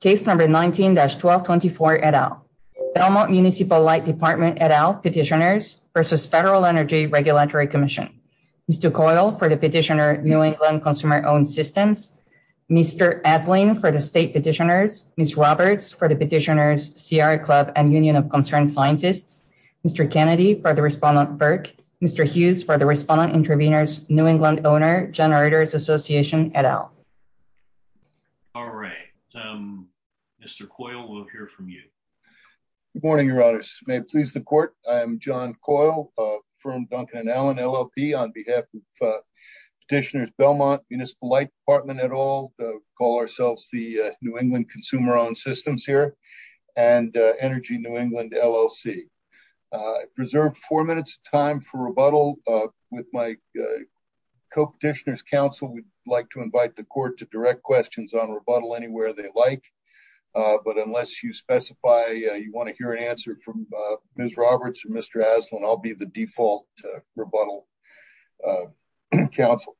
Case number 19-1224, et al. Belmont Municipal Light Department, et al, petitioners versus Federal Energy Regulatory Commission. Mr. Coyle for the petitioner, New England Consumer Owned Systems. Mr. Adling for the state petitioners. Ms. Roberts for the petitioners, CR Club and Union of Concerned Scientists. Mr. Kennedy for the respondent, Burke. Mr. Hughes for the respondent and intervenors, New England Owner Generators Association, et al. All right, Mr. Coyle, we'll hear from you. Good morning, your honors. May it please the court. I'm John Coyle from Duncan and Allen, LLC on behalf of petitioners, Belmont, Municipal Light Department, et al. Call ourselves the New England Consumer Owned Systems here and Energy New England, LLC. Preserved four minutes time for rebuttal with my co-petitioner's counsel. We'd like to invite the court to direct questions on rebuttal anywhere they like, but unless you specify you want to hear an answer from Ms. Roberts or Mr. Aslan, I'll be the default rebuttal counsel.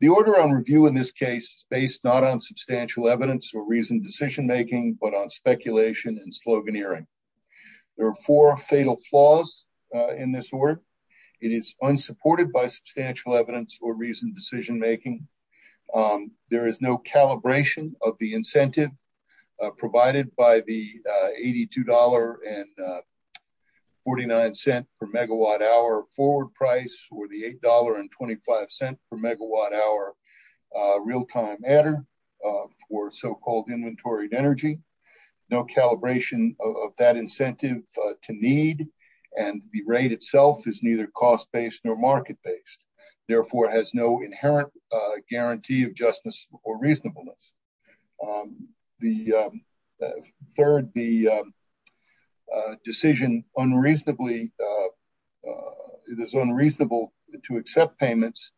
The order on review in this case is based not on substantial evidence or reasoned decision-making, but on speculation and sloganeering. There are four fatal flaws in this order. It is unsupported by substantial evidence or reasoned decision-making. There is no calibration of the incentive provided by the $82.49 per megawatt hour forward price or the $8.25 per megawatt hour real-time adder for so-called inventory of energy. No calibration of that incentive to need and the rate itself is neither cost-based nor market-based. Therefore, it has no inherent guarantee of justice or reasonableness. The third, the decision unreasonably, it is unreasonable to accept payments,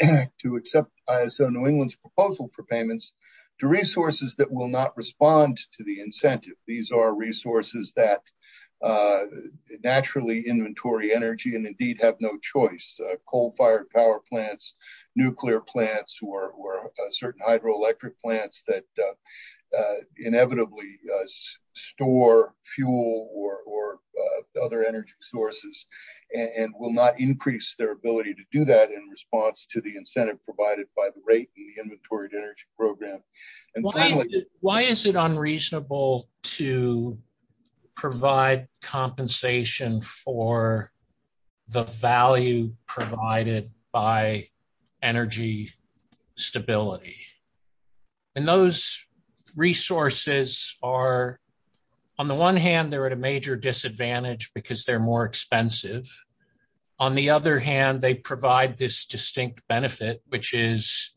to accept ISO New England's proposal for payments to resources that will not respond to the incentive. These are resources that naturally inventory energy can indeed have no choice. Coal-fired power plants, nuclear plants, or certain hydroelectric plants that inevitably store fuel or other energy sources and will not increase their ability to do that in response to the incentive provided by the rate and the inventory of energy program. And finally- Why is it unreasonable to provide compensation for the value provided by energy stability? And those resources are, on the one hand, they're at a major disadvantage because they're more expensive. On the other hand, they provide this distinct benefit, which is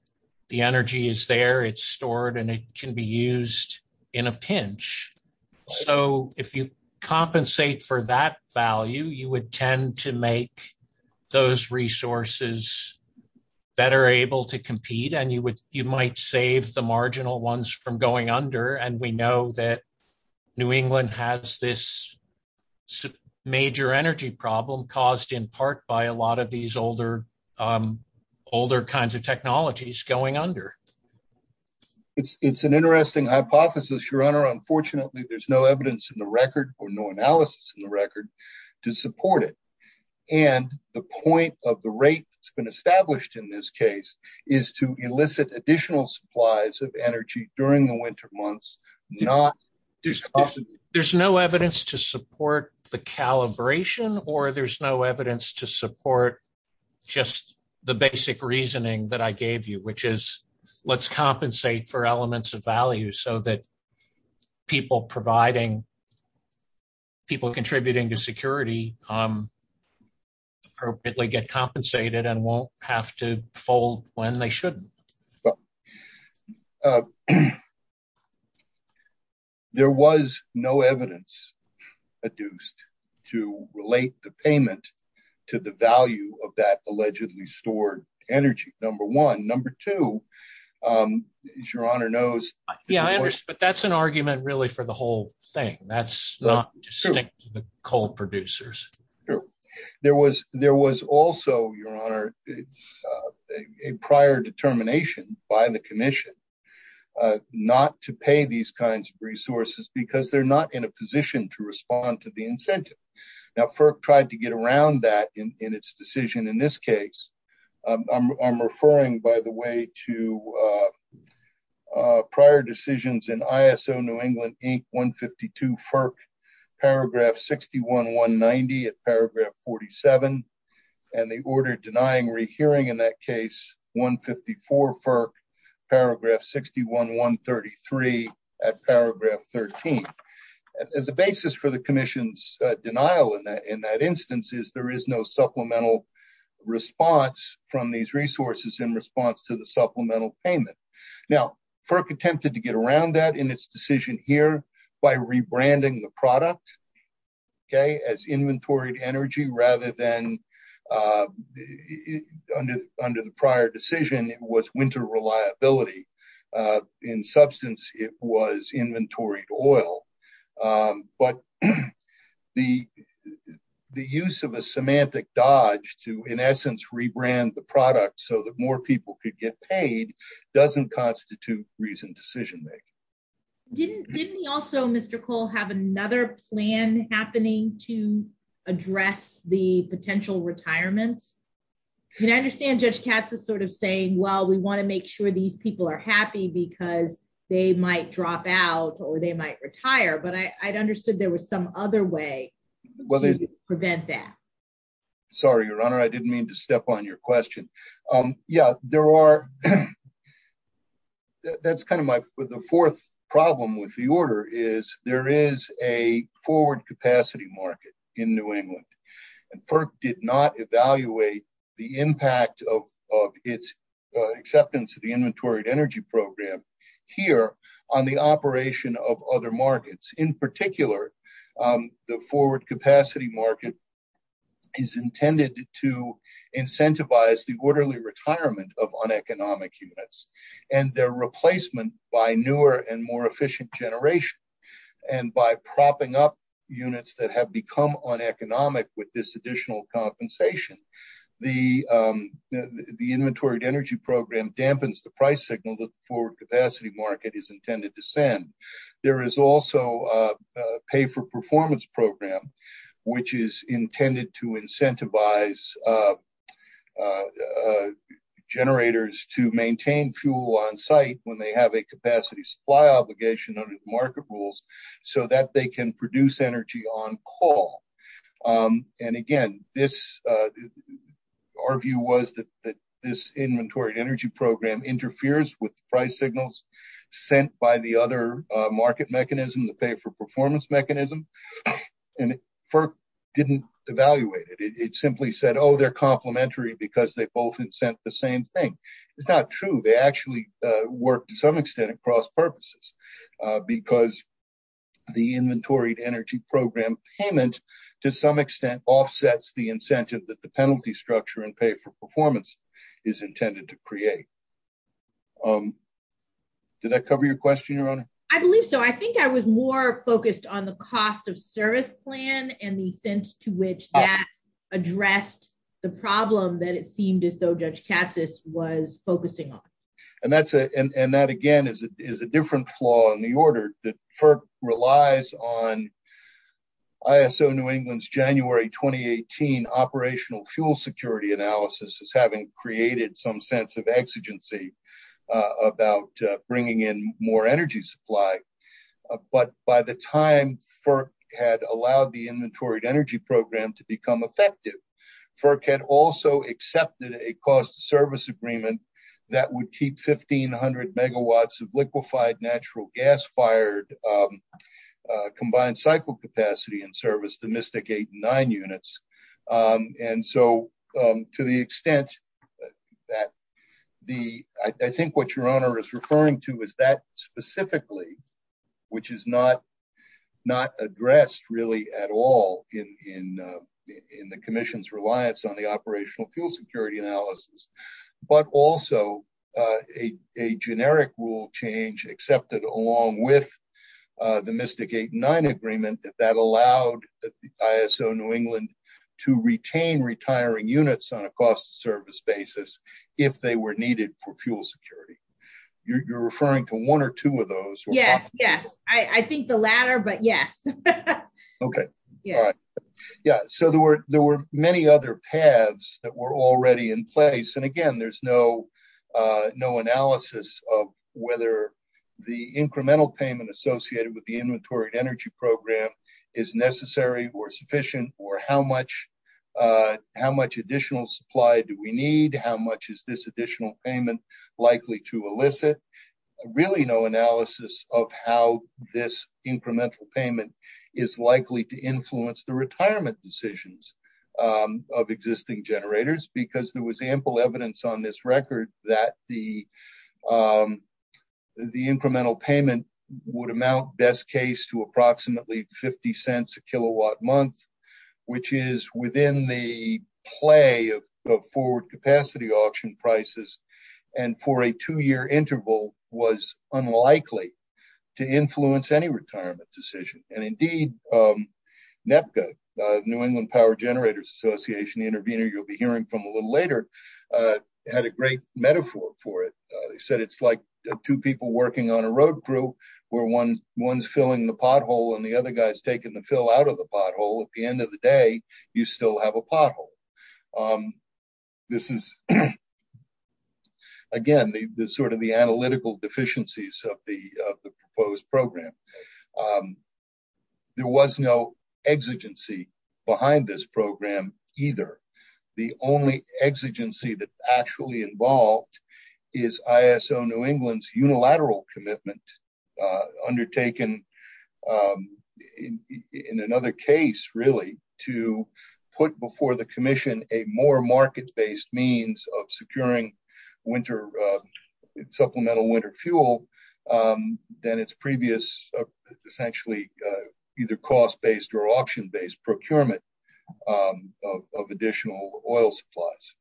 the energy is there, it's stored, and it can be used in a pinch. So if you compensate for that value, you would tend to make those resources better able to compete, and you might save the marginal ones from going under. And we know that New England has this major energy problem caused in part by a lot of these It's an interesting hypothesis, Sharon, unfortunately, there's no evidence in the record or no analysis in the record to support it. And the point of the rate that's been established in this case is to elicit additional supplies of energy during the winter months, not just- There's no evidence to support the calibration or there's no evidence to support just the basic reasoning that I gave you, which is let's compensate for elements of value so that people contributing to security appropriately get compensated and won't have to fold when they shouldn't. There was no evidence adduced to relate the payment to the value of that allegedly stored energy, number one. Number two, as your honor knows- Yeah, I understand, but that's an argument really for the whole thing. That's not just the coal producers. There was also, your honor, a prior determination by the commission not to pay these kinds of resources because they're not in a position to respond to the incentive. Now, FERC tried to get around that in its decision. In this case, I'm referring, by the way, to prior decisions in ISO New England Inc. 152 FERC, paragraph 61-190 at paragraph 47, and the order denying rehearing in that case, 154 FERC, paragraph 61-133 at paragraph 13. As a basis for the commission's denial in that instance is there is no supplemental response from these resources in response to the supplemental payment. Now, FERC attempted to get around that in its decision here by rebranding the product as inventoried energy rather than, under the prior decision, it was winter reliability. In substance, it was inventoried oil. But the use of a semantic dodge to, in essence, rebrand the product so that more people could get paid doesn't constitute reasoned decision-making. Didn't we also, Mr. Cole, have another plan happening to address the potential retirement? And I understand Judge Katz is sort of saying, well, we wanna make sure these people are happy because they might drop out or they might retire, but I understood there was some other way to prevent that. Sorry, Your Honor, I didn't mean to step on your question. Yeah, there are, that's kind of my, with the fourth problem with the order is there is a forward capacity market in New England. And FERC did not evaluate the impact of its acceptance of the inventoried energy program here on the operation of other markets. In particular, the forward capacity market is intended to incentivize the orderly retirement of uneconomic units and their replacement by newer and more efficient generation. And by propping up units that have become uneconomic with this additional compensation, the inventoried energy program dampens the price signal that the forward capacity market is intended to send. There is also a pay-for-performance program, which is intended to incentivize generators to maintain fuel on site when they have a capacity supply obligation under the market rules so that they can produce energy on call. And again, our view was that this inventoried energy program interferes with price signals sent by the other market mechanism, the pay-for-performance mechanism. And FERC didn't evaluate it. It simply said, oh, they're complimentary because they both had sent the same thing. It's not true. They actually worked to some extent across purposes because the inventoried energy program payment to some extent offsets the incentive that the penalty structure and pay-for-performance is intended to create. Did that cover your question, Your Honor? I believe so. I think I was more focused on the cost of service plan and the sense to which that addressed the problem that it seemed as though Judge Cassis was focusing on. And that again is a different flaw in the order that FERC relies on ISO New England's January 2018 operational fuel security analysis as having created some sense of exigency about bringing in more energy supply. But by the time FERC had allowed the inventoried energy program to become effective, FERC had also accepted a cost of service agreement that would keep 1,500 megawatts of liquefied natural gas fired combined cycle capacity in service domestic eight and nine units. And so to the extent that the, I think what Your Honor is referring to is that specifically, which is not addressed really at all in the commission's reliance on the operational fuel security analysis. But also a generic rule change accepted along with the domestic eight and nine agreement that that allowed the ISO New England to retain retiring units on a cost of service basis if they were needed for fuel security. You're referring to one or two of those. Yeah, yeah. I think the latter, but yeah. Okay. Yeah. Yeah, so there were many other paths that were already in place. And again, there's no analysis of whether the incremental payment associated with the inventoried energy program is necessary or sufficient or how much additional supply do we need? How much is this additional payment likely to elicit? Really no analysis of how this incremental payment is likely to influence the retirement decisions of existing generators because there was ample evidence on this record that the incremental payment would amount best case to approximately 50 cents a kilowatt month, which is within the play of forward capacity auction prices. And for a two year interval was unlikely to influence any retirement decision. And indeed, NEPCA, New England Power Generators Association, the intervener you'll be hearing from a little later, had a great metaphor for it. He said, it's like two people working on a road crew where one's filling the pothole and the other guy is taking the fill out of the pothole. At the end of the day, you still have a pothole. This is, again, the sort of the analytical deficiencies of the proposed program. There was no exigency behind this program either. The only exigency that's actually involved is ISO New England's unilateral commitment undertaken in another case really to put before the commission a more market-based means of securing supplemental winter fuel than its previous essentially either cost-based or auction-based procurement of additional oil supplies.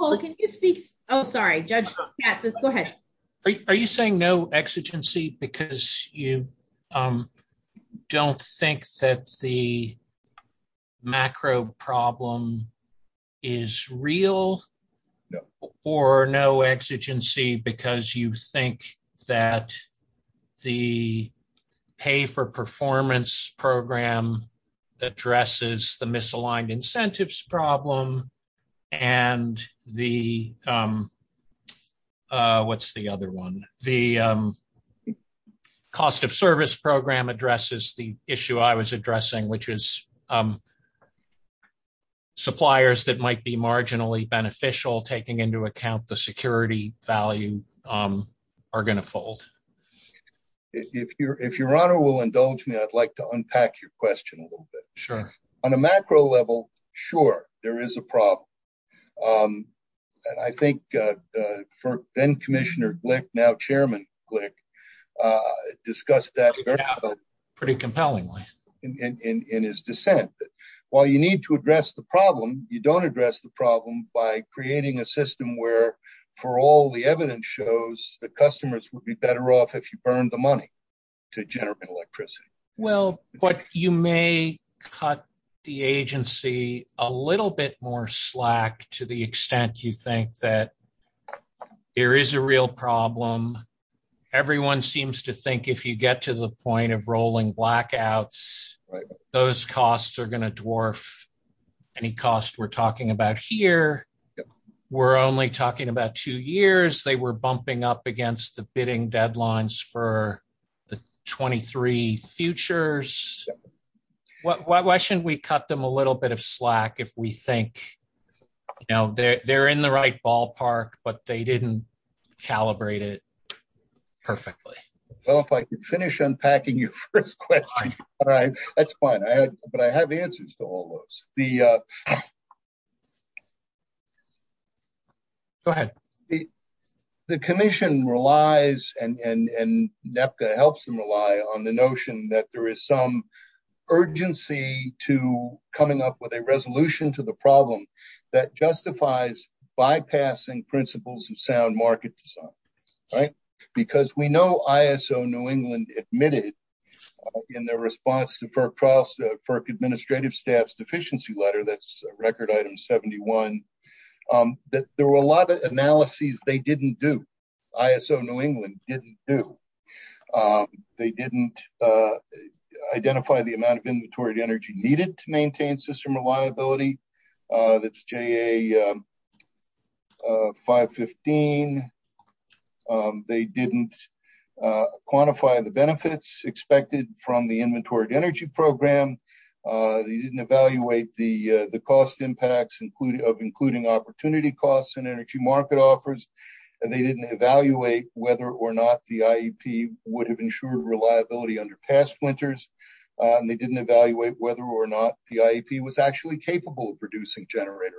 Paul, can you speak? Oh, sorry, Judge Katz, go ahead. Are you saying no exigency because you don't think that the macro problem is real? No. Or no exigency because you think that the pay for performance program addresses the misaligned incentives problem and the, what's the other one? The cost of service program addresses the issue I was addressing, which is suppliers that might be marginally beneficial taking into account the security value are gonna fold. If your honor will indulge me, I'd like to unpack your question a little bit. Sure. On a macro level, sure, there is a problem. I think for then Commissioner Glick, now Chairman Glick discussed that very well. Pretty compellingly. In his dissent. While you need to address the problem, you don't address the problem by creating a system where for all the evidence shows the customers would be better off if you burned the money to generate electricity. Well, but you may cut the agency a little bit more slack to the extent you think that there is a real problem. Everyone seems to think if you get to the point of rolling blackouts, those costs are gonna dwarf any cost we're talking about here. We're only talking about two years. They were bumping up against the bidding deadlines for the 23 futures. Why shouldn't we cut them a little bit of slack if we think now they're in the right ballpark, but they didn't calibrate it perfectly. Well, if I could finish unpacking your first question. All right, that's fine. But I have the answers to all those. Go ahead. The commission relies and NEPTA helps them rely on the notion that there is some urgency to coming up with a resolution to the problem that justifies bypassing principles of sound market design. Because we know ISO New England admitted in their response to FERC administrative staff's deficiency letter, that's record item 71, that there were a lot of analyses they didn't do. ISO New England didn't do. They didn't identify the amount of inventory energy needed to maintain system reliability. That's JA 515. They didn't quantify the benefits expected from the inventory energy program. They didn't evaluate the cost impacts of including opportunity costs and energy market offers. And they didn't evaluate whether or not the IEP would have ensured reliability under past splinters. They didn't evaluate whether or not the IEP was actually capable of producing generator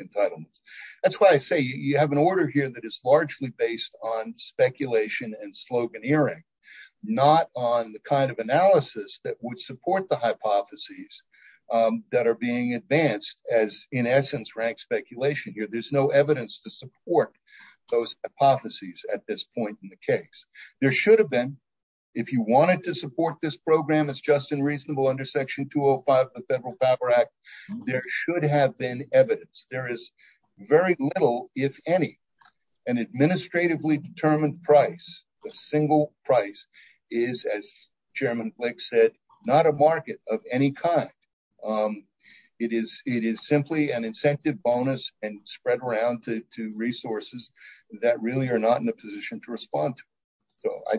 entitlements. That's why I say you have an order here that is largely based on speculation and sloganeering, not on the kind of analysis that would support the hypotheses that are being advanced as in essence rank speculation here. There's no evidence to support those hypotheses at this point in the case. There should have been, if you wanted to support this program as just and reasonable under section 205 of the Federal Power Act, there should have been evidence. There is very little, if any, an administratively determined price. A single price is, as Chairman Blake said, not a market of any kind. It is simply an incentive bonus and spread around to resources that really are not in a position to respond to. So I...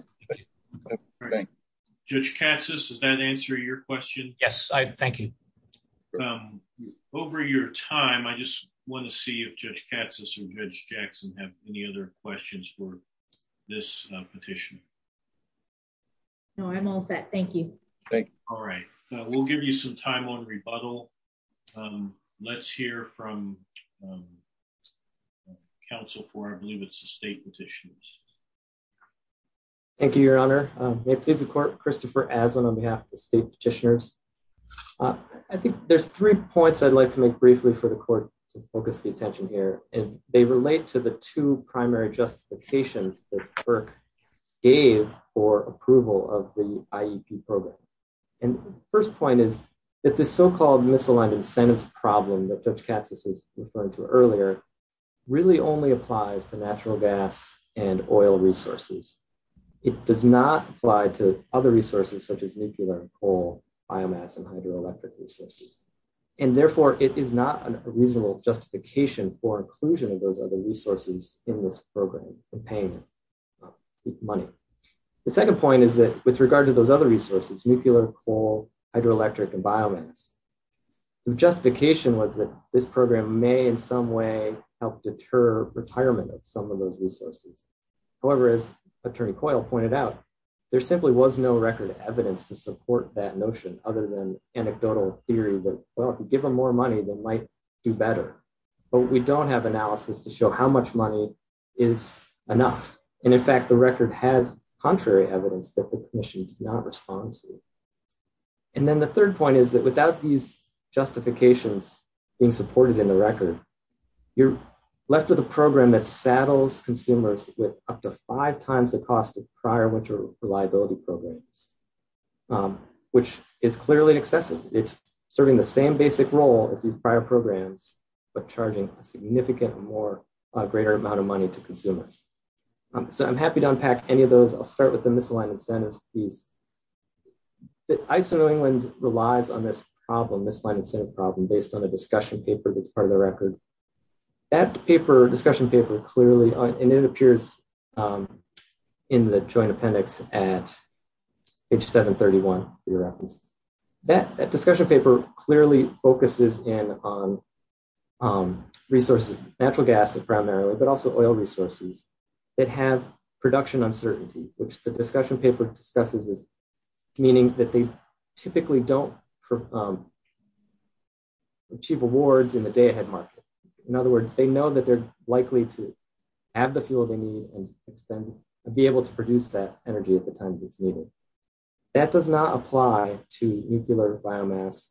Judge Cassis, does that answer your question? Yes, thank you. Over your time, I just want to see if Judge Cassis or Judge Jackson have any other questions for this petition. No, I'm all set. Thank you. All right. We'll give you some time on rebuttal. Let's hear from Council for, I believe it's the State Petitioners. Thank you, Your Honor. I'm Chief of Court Christopher Adlin on behalf of the State Petitioners. I think there's three points I'd like to make briefly for the Court to focus the attention here. And they relate to the two primary justifications that FERC gave for approval of the IEP program. And the first point is, that the so-called miscellaneous incentive problem that Judge Cassis was referring to earlier really only applies to natural gas and oil resources. It does not apply to other resources such as nuclear, coal, biomass, and hydroelectric resources. And therefore, it is not a reasonable justification for inclusion of those other resources in this program and payment of money. The second point is that, with regard to those other resources, nuclear, coal, hydroelectric, and biomass, the justification was that this program may in some way help deter retirement of some of those resources. However, as Attorney Coyle pointed out, there simply was no record of evidence to support that notion other than anecdotal theory that, well, if you give them more money, they might do better. But we don't have analysis to show how much money is enough. And in fact, the record has contrary evidence that the Commission did not respond to. And then the third point is that, without these justifications being supported in the record, you're left with a program that saddles consumers with up to five times the cost of prior winter reliability programs, which is clearly excessive. It's serving the same basic role as these prior programs, but charging a significant more, a greater amount of money to consumers. So I'm happy to unpack any of those. I'll start with the misaligned incentives piece. I'd say that England relies on this problem, this misaligned incentive problem, based on a discussion paper that's part of the record. That paper, discussion paper, clearly, and it appears in the joint appendix at page 731. That discussion paper clearly focuses in on resources, natural gas primarily, but also oil resources, that have production uncertainty, which the discussion paper discusses, meaning that they typically don't achieve awards in the day ahead market. In other words, they know that they're likely to have the fuel they need, and be able to produce that energy at the times it's needed. That does not apply to nuclear, biomass,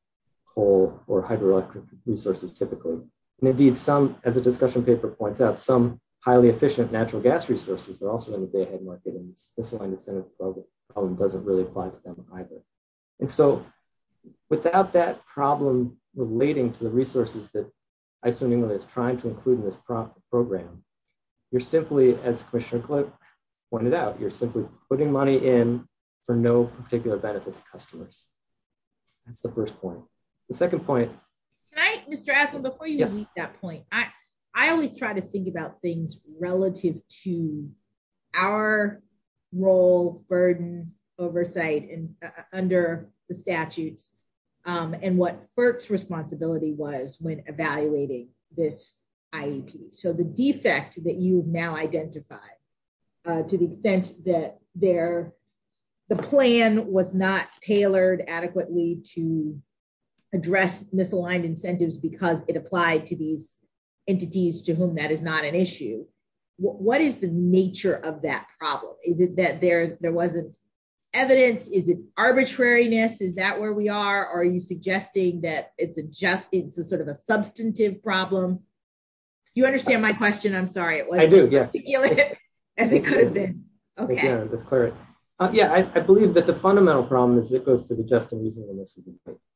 coal, or hydroelectric resources, typically. And indeed, some, as the discussion paper points out, some highly efficient natural gas resources are also in the day ahead market, and the misaligned incentives problem doesn't really apply to them either. And so, without that problem relating to the resources that Iceland England is trying to include in this program, you're simply, as Commissioner Glick pointed out, you're simply putting money in for no particular benefit to customers. That's the first point. The second point. Can I, Mr. Adler, before you make that point, I always try to think about things relative to our role, burden, oversight, under the statute, and what FERC's responsibility was when evaluating this IET. So the defect that you've now identified, to the extent that the plan was not tailored adequately to address misaligned incentives because it applied to these entities to whom that is not an issue. What is the nature of that problem? Is it that there wasn't evidence? Is it arbitrariness? Is that where we are? Are you suggesting that it's a just, it's a sort of a substantive problem? You understand my question, I'm sorry. It wasn't as articulate as it could have been. Okay. Yeah, I believe that the fundamental problem is it goes to the just and reasonable misuse.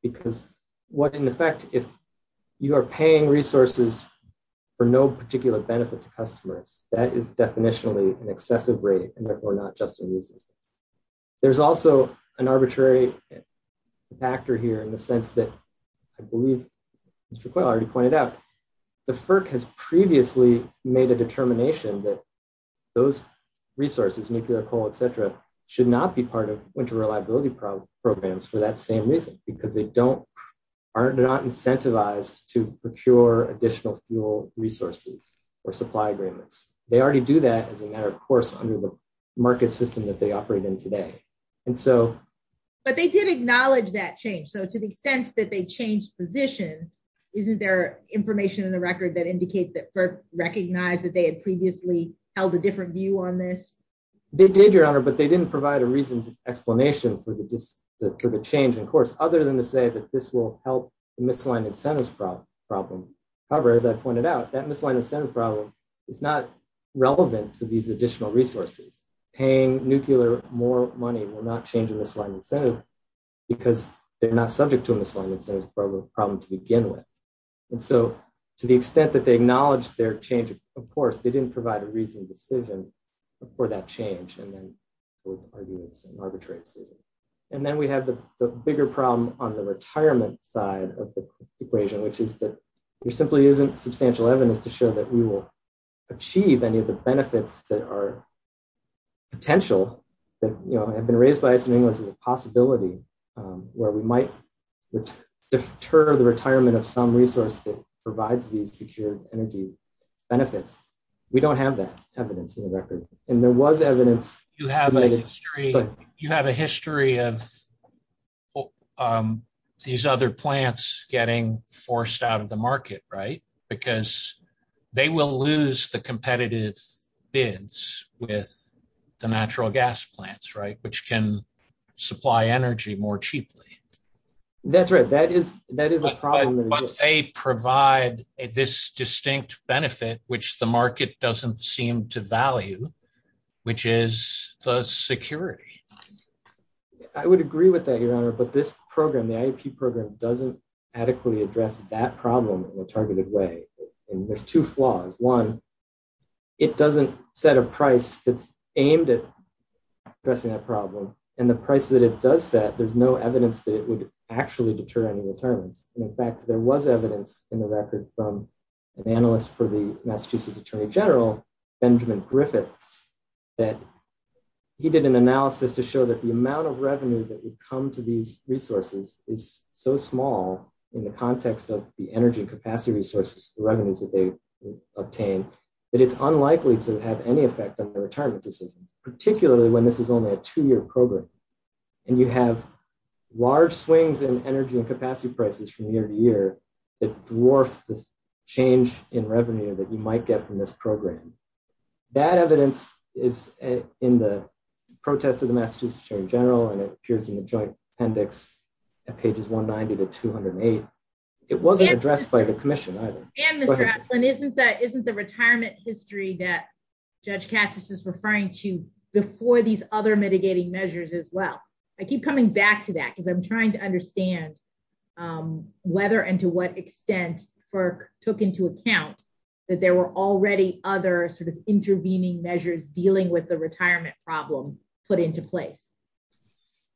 Because what, in effect, if you are paying resources for no particular benefit to customers, that is definitionally an accepted rate and therefore not just and reasonable. There's also an arbitrary factor here in the sense that I believe Mr. Quayle already pointed out, the FERC has previously made a determination that those resources, nuclear, coal, et cetera, should not be part of winter reliability programs for that same reason. Because they don't, they're not incentivized to procure additional fuel resources or supply agreements. They already do that as a matter of course under the market system that they operate in today. And so- But they did acknowledge that change. So to the extent that they changed positions, isn't there information in the record that indicates that FERC recognized that they had previously held a different view on this? They did, Your Honor, but they didn't provide a reasoned explanation for the change, of course, other than to say that this will help the misaligned incentives problem. However, as I pointed out, that misaligned incentives problem is not relevant to these additional resources. Paying nuclear more money will not change the misaligned incentives because they're not subject to misaligned incentives problem to begin with. And so to the extent that they acknowledged their change, of course, they didn't provide a reasoned decision for that change. And then we'll argue it's an arbitrary decision. And then we have the bigger problem on the retirement side of the equation, which is that we're simply using substantial evidence to show that we will achieve any of the benefits that are potential, that have been raised by us in English as a possibility where we might deter the retirement of some resource that provides you future energy benefits. We don't have that evidence in the record. And there was evidence- You have a history of these other plants getting forced out of the market, right? Because they will lose the competitive bids with the natural gas plants, right? Which can supply energy more cheaply. That's right. That is a problem. But they provide this distinct benefit, which the market doesn't seem to value, which is the security. I would agree with that, Your Honor, but this program, the IEP program, doesn't adequately address that problem in a targeted way. And there's two flaws. One, it doesn't set a price that's aimed at addressing that problem. And the price that it does set, there's no evidence that it would actually deter any return. And in fact, there was evidence in the record from an analyst for the Massachusetts Attorney General, Benjamin Griffith, that he did an analysis to show that the amount of revenue that would come to these resources is so small in the context of the energy and capacity resources, the revenues that they obtain, that it's unlikely to have any effect on the return of the system, particularly when this is only a two-year program. And you have large swings in energy and capacity prices from year to year that dwarfs the change in revenue that you might get from this program. That evidence is in the protest of the Massachusetts Attorney General, and it appears in the joint appendix at pages 190 to 208. It wasn't addressed by the commission either. Go ahead. And isn't the retirement history that Judge Cassius is referring to before these other mitigating measures as well? I keep coming back to that because I'm trying to understand whether and to what extent FERC took into account that there were already other sort of intervening measures dealing with the retirement problem put into place.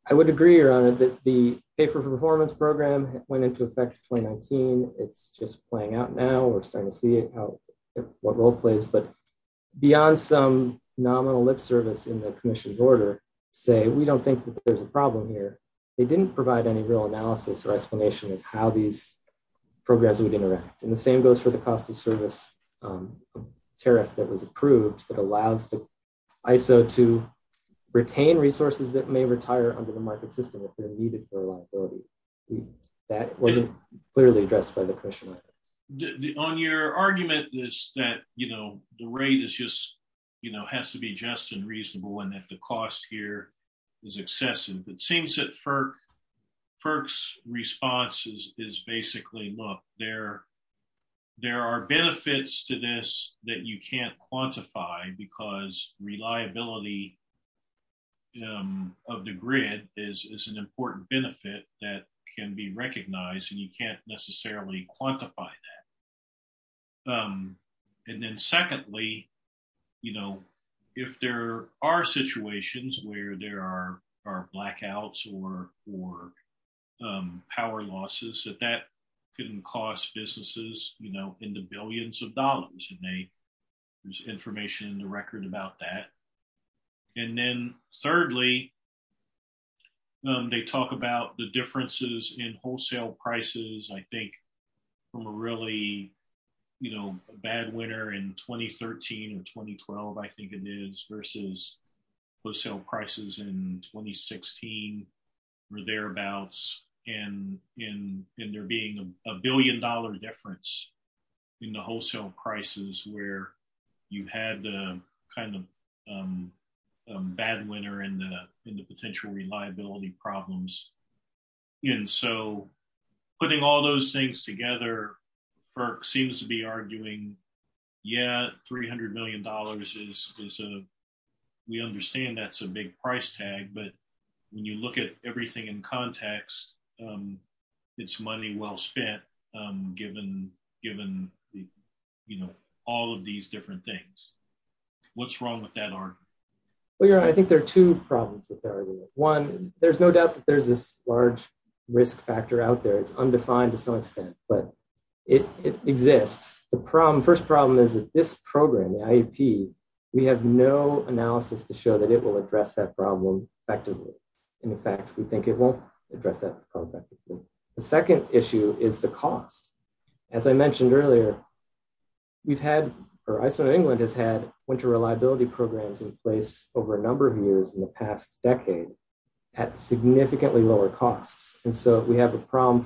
I would agree, Your Honor, that the Pay for Performance Program went into effect 2019. It's just playing out now. We're starting to see what role it plays. But beyond some nominal lip service in the commission's order to say, we don't think that there's a problem here, they didn't provide any real analysis or explanation of how these programs would interact. And the same goes for the cost of service tariff that was approved that allows the ISO to retain resources that may retire under the market system if they're needed for liability. That wasn't clearly addressed by the commission. On your argument is that the rate is just, has to be just and reasonable and that the cost here is excessive. It seems that FERC's response is basically, look, there are benefits to this that you can't quantify because reliability of the grid is an important benefit that can be recognized and you can't necessarily quantify that. And then secondly, if there are situations where there are blackouts or power losses, that that can cost businesses in the billions of dollars to make. There's information in the record about that. And then thirdly, they talk about the differences in wholesale prices, I think, from a really bad winter in 2013 or 2012, I think it is, versus wholesale prices in 2016 or thereabouts. And there being a billion dollar difference in the wholesale prices where you had a kind of bad winter in the potential reliability problems. And so putting all those things together, FERC seems to be arguing, yeah, $300 million is a, we understand that's a big price tag, but when you look at everything in context, it's money well spent given all of these different things. What's wrong with that argument? Well, I think there are two problems with that argument. One, there's no doubt that there's this large risk factor out there, it's undefined, it's not expense, but it exists. The first problem is that this program, the IEP, we have no analysis to show that it will address that problem effectively. In fact, we think it won't address that problem effectively. The second issue is the cost. As I mentioned earlier, we've had, or ISO England has had winter reliability programs in place over a number of years in the past decade at significantly lower costs. And so we have a problem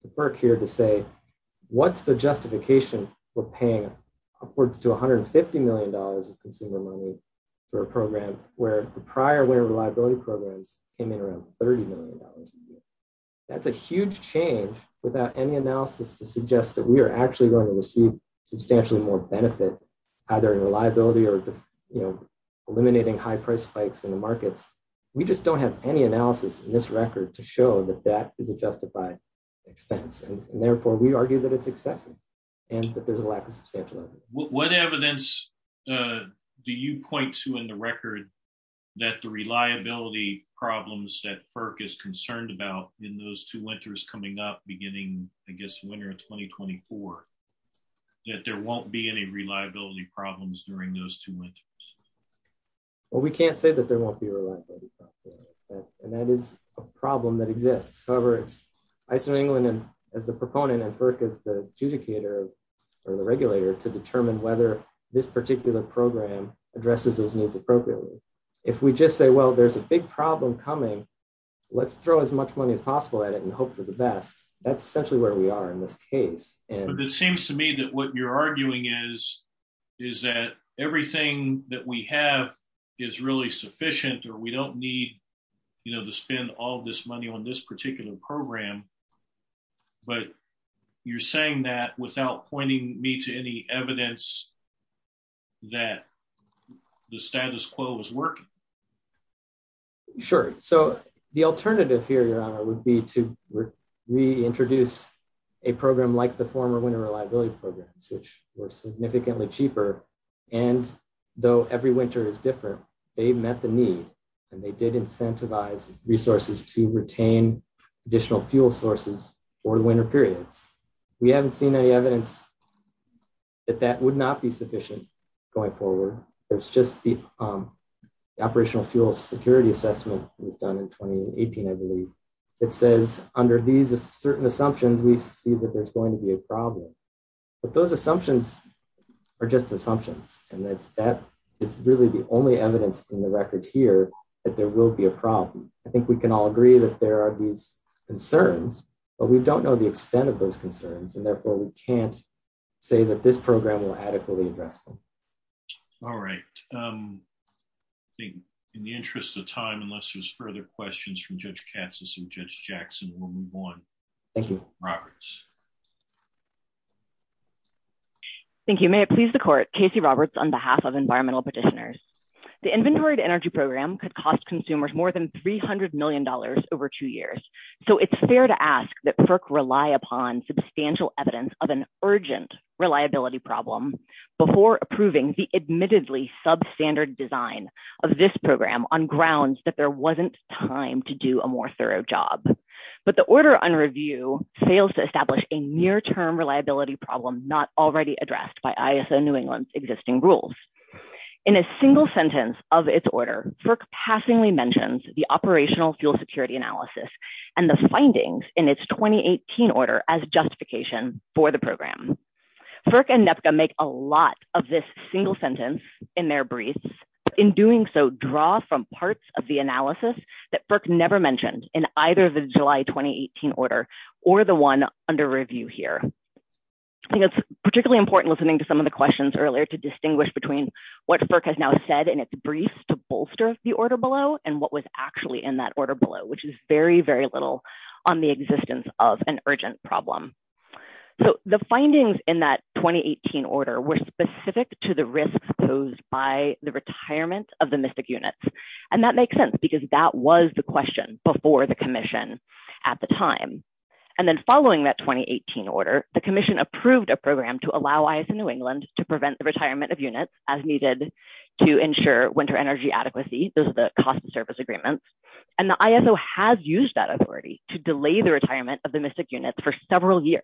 for FERC here to say, what's the justification for paying upwards to $150 million of consumer money for a program where the prior winter reliability programs came in around $30 million a year? That's a huge change without any analysis to suggest that we are actually going to receive substantially more benefit, either in reliability or just eliminating high price spikes in the market. We just don't have any analysis in this record to show that that is a justified expense. And therefore we argue that it's excessive and that there's a lack of scheduling. What evidence do you point to in the record that the reliability problems that FERC is concerned about in those two winters coming up beginning, I guess, winter of 2024, that there won't be any reliability problems during those two winters? Well, we can't say that there won't be reliability problems. And that is a problem that exists. However, ISO England, as the proponent, and FERC as the adjudicator or the regulator to determine whether this particular program addresses those needs appropriately. If we just say, well, there's a big problem coming, let's throw as much money as possible at it and hope for the best. That's essentially where we are in this case. But it seems to me that what you're arguing is that everything that we have is really sufficient or we don't need to spend all this money on this particular program. But you're saying that without pointing me to any evidence that the status quo is working? Sure. So the alternative here, Your Honor, would be to reintroduce a program like the former winter reliability programs, which were significantly cheaper. And though every winter is different, they met the need and they did incentivize resources to retain additional fuel sources for the winter period. We haven't seen any evidence that that would not be sufficient going forward. It's just the operational fuel security assessment we've done in 2018, I believe, that says under these certain assumptions, we see that there's going to be a problem. But those assumptions are just assumptions. And it's really the only evidence in the record here that there will be a problem. I think we can all agree that there are these concerns, but we don't know the extent of those concerns. And therefore we can't say that this program will adequately address them. All right. In the interest of time, unless there's further questions from Judge Katz and Judge Jackson, we'll move on. Thank you. Roberts. Thank you. May it please the court, Casey Roberts on behalf of environmental petitioners. The inventory to energy program could cost consumers more than $300 million over two years. So it's fair to ask that FERC rely upon substantial evidence of an urgent reliability problem before approving the admittedly substandard design of this program on grounds that there wasn't time to do a more thorough job. But the order on review fails to establish a near-term reliability problem not already addressed by ISO New England's existing rules. In a single sentence of its order, FERC passingly mentions the operational fuel security analysis and the findings in its 2018 order as justification for the program. FERC and NEPCA make a lot of this single sentence in their briefs. In doing so, draw from parts of the analysis that FERC never mentioned in either the July 2018 order or the one under review here. I think it's particularly important listening to some of the questions earlier to distinguish between what FERC has now said in its briefs to bolster the order below and what was actually in that order below, which is very, very little on the existence of an urgent problem. So the findings in that 2018 order were specific to the risks posed by the retirement of the MIFIC units. And that makes sense because that was the question before the commission at the time. And then following that 2018 order, the commission approved a program to allow ISO New England to prevent the retirement of units as needed to ensure winter energy adequacy. Those are the cost of service agreements. And the ISO has used that authority to delay the retirement of the MIFIC units for several years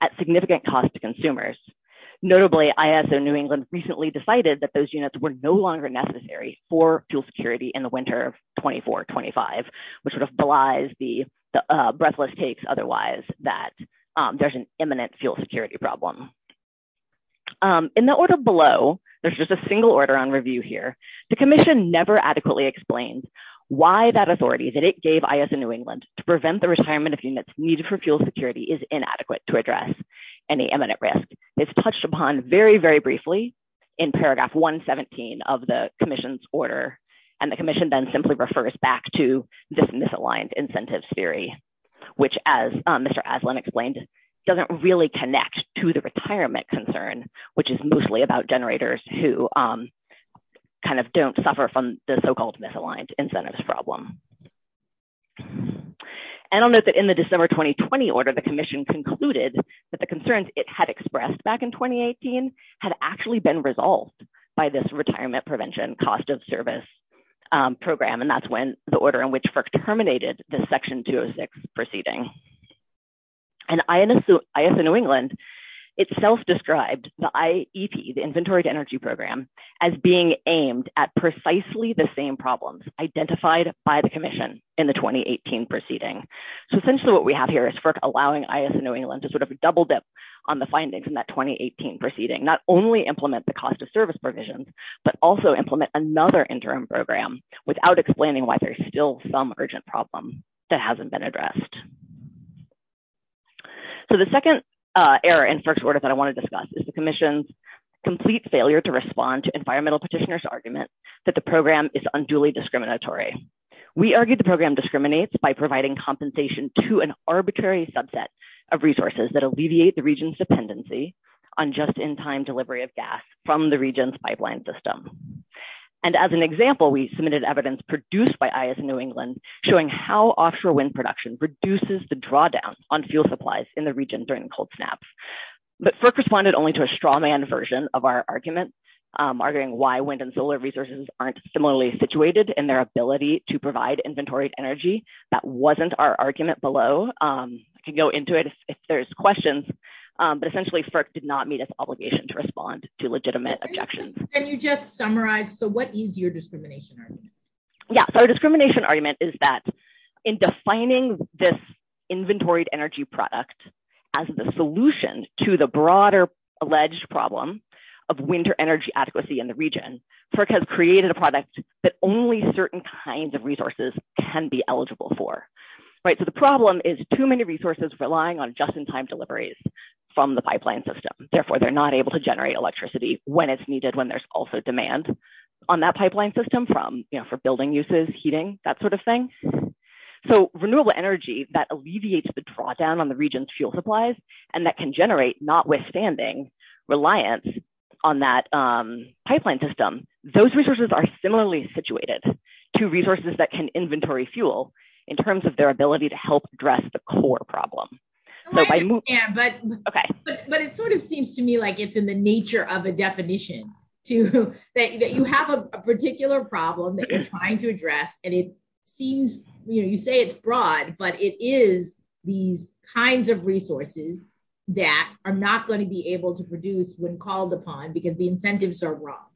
at significant cost to consumers. Notably, ISO New England recently decided that those units were no longer necessary for fuel security in the winter of 24, 25, which sort of belies the breathless case otherwise that there's an imminent fuel security problem. In the order below, there's just a single order on review here. The commission never adequately explained why that authority that it gave ISO New England to prevent the retirement of units needed for fuel security is inadequate to address any imminent risk. It's touched upon very, very briefly in paragraph 117 of the commission's order. And the commission then simply refers back to this misaligned incentives theory, which as Mr. Aslan explained, doesn't really connect to the retirement concern, which is mostly about generators who kind of don't suffer from the so-called misaligned incentives problem. And I'll note that in the December 2020 order, the commission concluded that the concerns it had expressed back in 2018 had actually been resolved by this retirement prevention cost of service program. And that's when the order in which FERC terminated the section 206 proceeding. And ISO New England itself described the IEP, the Inventory-to-Energy Program, as being aimed at precisely the same problems identified by the commission in the 2018 proceeding. So essentially what we have here is FERC allowing ISO New England to sort of double dip on the findings in that 2018 proceeding, not only implement the cost of service provisions, but also implement another interim program without explaining why there's still some urgent problem that hasn't been addressed. So the second error in FERC's order that I wanna discuss is the commission's complete failure to respond to environmental petitioners' argument that the program is unduly discriminatory. We argued the program discriminates by providing compensation to an arbitrary subset of resources that alleviate the region's dependency on just-in-time delivery of gas from the region's pipeline system. And as an example, we submitted evidence produced by ISO New England showing how offshore wind production reduces the drawdown on fuel supplies in the region during cold snaps. But FERC responded only to a strawman version of our argument, arguing why wind and solar resources aren't similarly situated in their ability to provide inventoried energy. That wasn't our argument below. You can go into it if there's questions, but essentially FERC did not meet its obligation to respond to legitimate objections. Can you just summarize, so what is your discrimination argument? Yeah, so our discrimination argument is that in defining this inventoried energy product as the solution to the broader alleged problem of winter energy adequacy in the region, FERC has created a product that only certain kinds of resources can be eligible for. Right, so the problem is too many resources relying on just-in-time deliveries from the pipeline system. Therefore, they're not able to generate electricity when it's needed, when there's also demand on that pipeline system from, you know, for building uses, heating, that sort of thing. So renewable energy that alleviates the drawdown on the region's fuel supplies and that can generate notwithstanding reliance on that pipeline system, those resources are similarly situated to resources that can inventory fuel in terms of their ability to help address the core problem. So by- Yeah, but- Okay. But it sort of seems to me like it's in the nature of the definition, to that you have a particular problem that you're trying to address, and it seems, you know, you say it's broad, but it is these kinds of resources that are not gonna be able to produce when called upon because the incentives are wrong.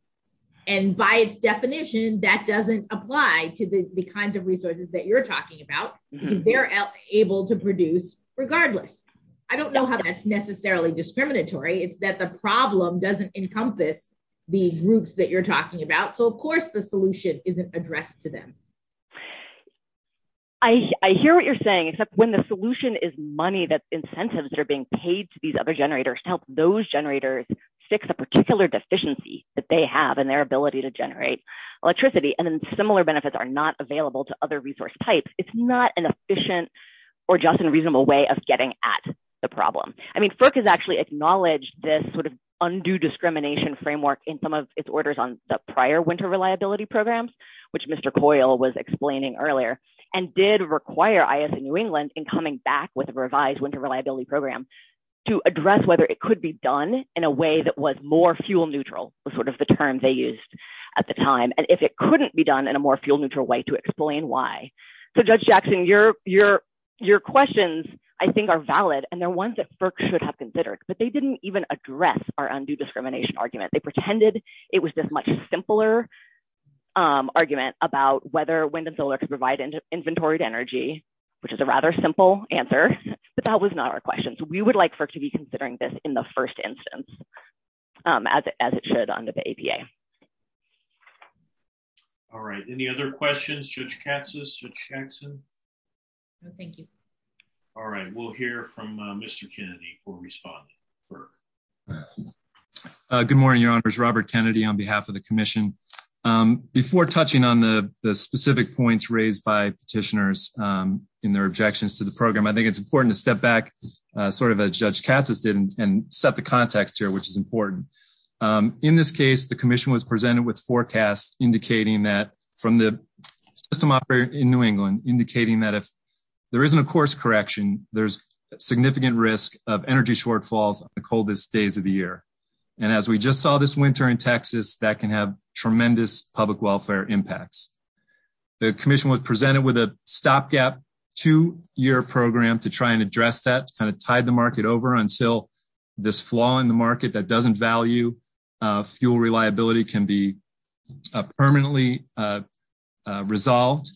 And by its definition, that doesn't apply to the kinds of resources that you're talking about. They're able to produce regardless. I don't know how that's necessarily discriminatory. It's that the problem doesn't encompass the groups that you're talking about. So of course the solution isn't addressed to them. I hear what you're saying, except when the solution is money, that incentives are being paid to these other generators to help those generators fix a particular deficiency that they have in their ability to generate electricity, and then similar benefits are not available to other resource types. It's not an efficient or just a reasonable way of getting at the problem. I mean, FERC has actually acknowledged this sort of undue discrimination framework in some of its orders on the prior winter reliability programs, which Mr. Coyle was explaining earlier, and did require IS in New England in coming back with a revised winter reliability program to address whether it could be done in a way that was more fuel neutral, was sort of the term they used at the time, and if it couldn't be done in a more fuel neutral way to explain why. So Judge Jackson, your questions I think are valid, and they're ones that FERC should have considered, but they didn't even address our undue discrimination argument. They pretended it was this much simpler argument about whether wind and solar could provide inventoried energy, which is a rather simple answer, but that was not our question. So we would like FERC to be considering this in the first instance, as it should under the APA. All right, any other questions, Judge Katsas, Judge Jackson? No, thank you. All right, we'll hear from Mr. Kennedy who will respond to FERC. All right. Good morning, Your Honors. Robert Kennedy on behalf of the commission. Before touching on the specific points raised by petitioners in their objections to the program, I think it's important to step back sort of as Judge Katsas did and set the context here, which is important. In this case, the commission was presented with forecasts indicating that from the system operator in New England, indicating that if there isn't a course correction, there's significant risk of energy shortfalls on the coldest days of the year. And as we just saw this winter in Texas, that can have tremendous public welfare impacts. The commission was presented with a stopgap two-year program to try and address that, kind of tide the market over until this flaw in the market that doesn't value fuel reliability can be permanently resolved.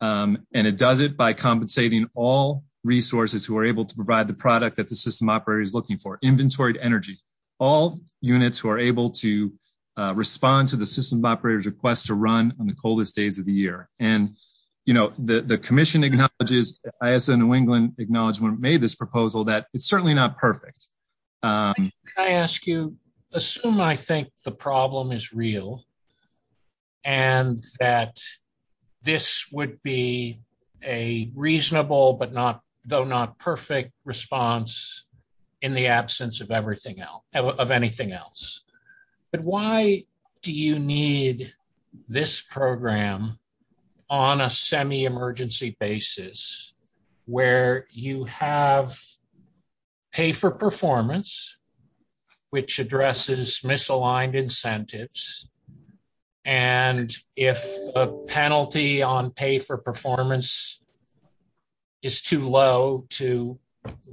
And it does it by compensating all resources who are able to provide the product that the system operator is looking for, inventory to energy, all units who are able to respond to the system operator's request to run on the coldest days of the year. And the commission acknowledges, as the New England acknowledgment made this proposal, that it's certainly not perfect. I ask you, assume I think the problem is real and that this would be a reasonable, but not though not perfect response in the absence of anything else. But why do you need this program on a semi-emergency basis where you have pay for performance, which addresses misaligned incentives. And if a penalty on pay for performance is too low to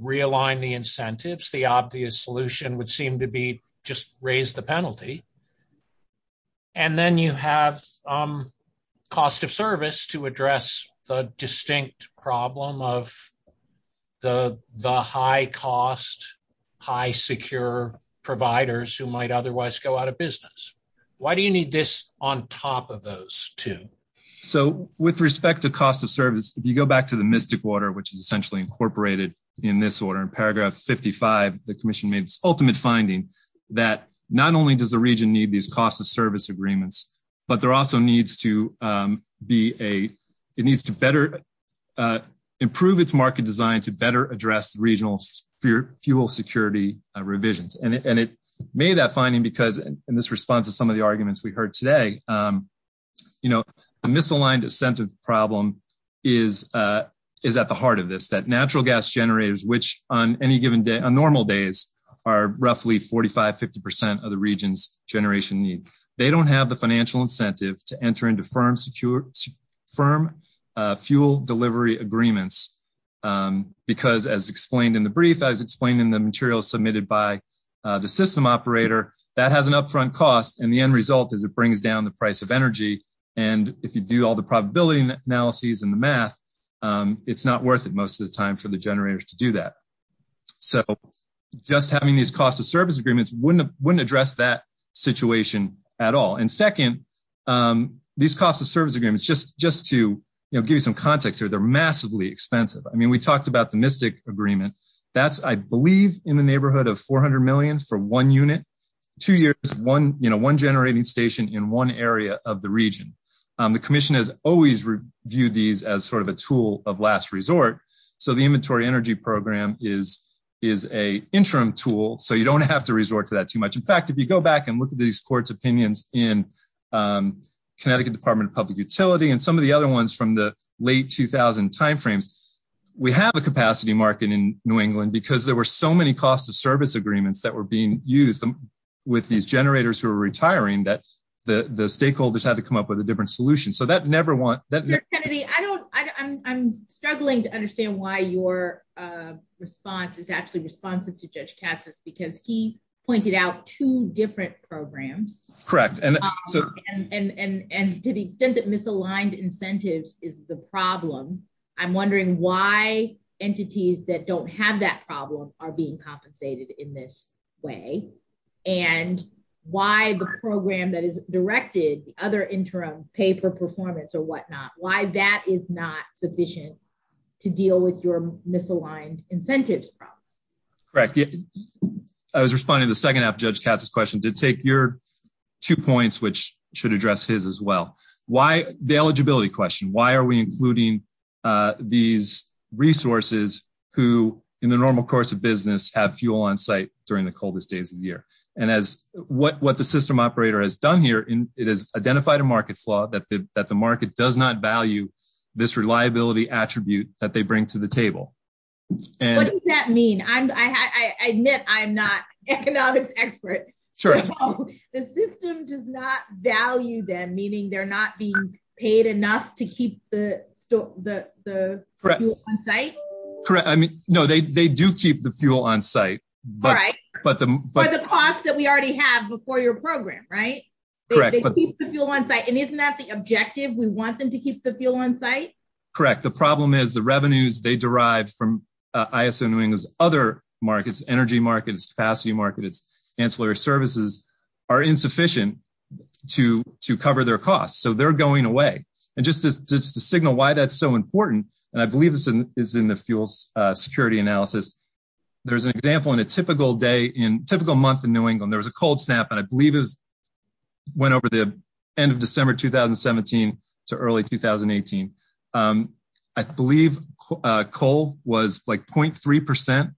realign the incentives, the obvious solution would seem to be just raise the penalty. And then you have cost of service to address the distinct problem of the high cost, high secure providers who might otherwise go out of business. Why do you need this on top of those two? So with respect to cost of service, if you go back to the mystic water, which is essentially incorporated in this order, in paragraph 55, the commission made its ultimate finding that not only does the region need these cost of service agreements, but there also needs to be a, it needs to better improve its market design to better address regional fuel security revisions. And it made that finding because in this response to some of the arguments we heard today, you know, the misaligned incentive problem is at the heart of this, that natural gas generators, which on any given day, on normal days, are roughly 45, 50% of the region's generation need. They don't have the financial incentive to enter into firm fuel delivery agreements because as explained in the brief, as explained in the material submitted by the system operator, that has an upfront cost. And the end result is it brings down the price of energy. And if you do all the probability analyses and the math, it's not worth it most of the time for the generators to do that. So just having these cost of service agreements wouldn't address that situation at all. And second, these cost of service agreements, just to give you some context here, they're massively expensive. I mean, we talked about the mystic agreement. That's, I believe, in the neighborhood of 400 million for one unit. Two years, one generating station in one area of the region. The commission has always viewed these as sort of a tool of last resort. So the inventory energy program is a interim tool. So you don't have to resort to that too much. In fact, if you go back and look at these court's opinions in Connecticut Department of Public Utility and some of the other ones from the late 2000 timeframes, we have a capacity market in New England because there were so many cost of service agreements that were being used with these generators who were retiring that the stakeholders had to come up with a different solution. So that never went- Mr. Kennedy, I'm struggling to understand why your response is actually responsive to Judge Cassius because he pointed out two different programs. Correct. And to the extent that misaligned incentives is the problem, I'm wondering why entities that don't have that problem are being compensated in this way and why the program that is directed, the other interim pay for performance or whatnot, why that is not sufficient to deal with your misaligned incentives problem. Correct. I was responding to the second half of Judge Cassius' question, did take your two points which should address his as well. Why the eligibility question, why are we including these resources who in the normal course of business have fuel on site during the coldest days of the year? And as what the system operator has done here, it has identified a market flaw that the market does not value this reliability attribute that they bring to the table. What does that mean? I admit I'm not an expert. Sure. The system does not value them, meaning they're not being paid enough to keep the fuel on site? Correct, I mean, no, they do keep the fuel on site. Right. But the cost that we already have before your program, right? Correct. They keep the fuel on site, and isn't that the objective, we want them to keep the fuel on site? Correct, the problem is the revenues they derive from ISN Wing's other markets, energy markets, capacity markets, ancillary services are insufficient to cover their costs. So they're going away. And just to signal why that's so important, and I believe this is in the fuel security analysis, there's an example in a typical day, in a typical month in New England, there was a cold snap, and I believe it went over the end of December 2017 to early 2018. I believe coal was like 0.3%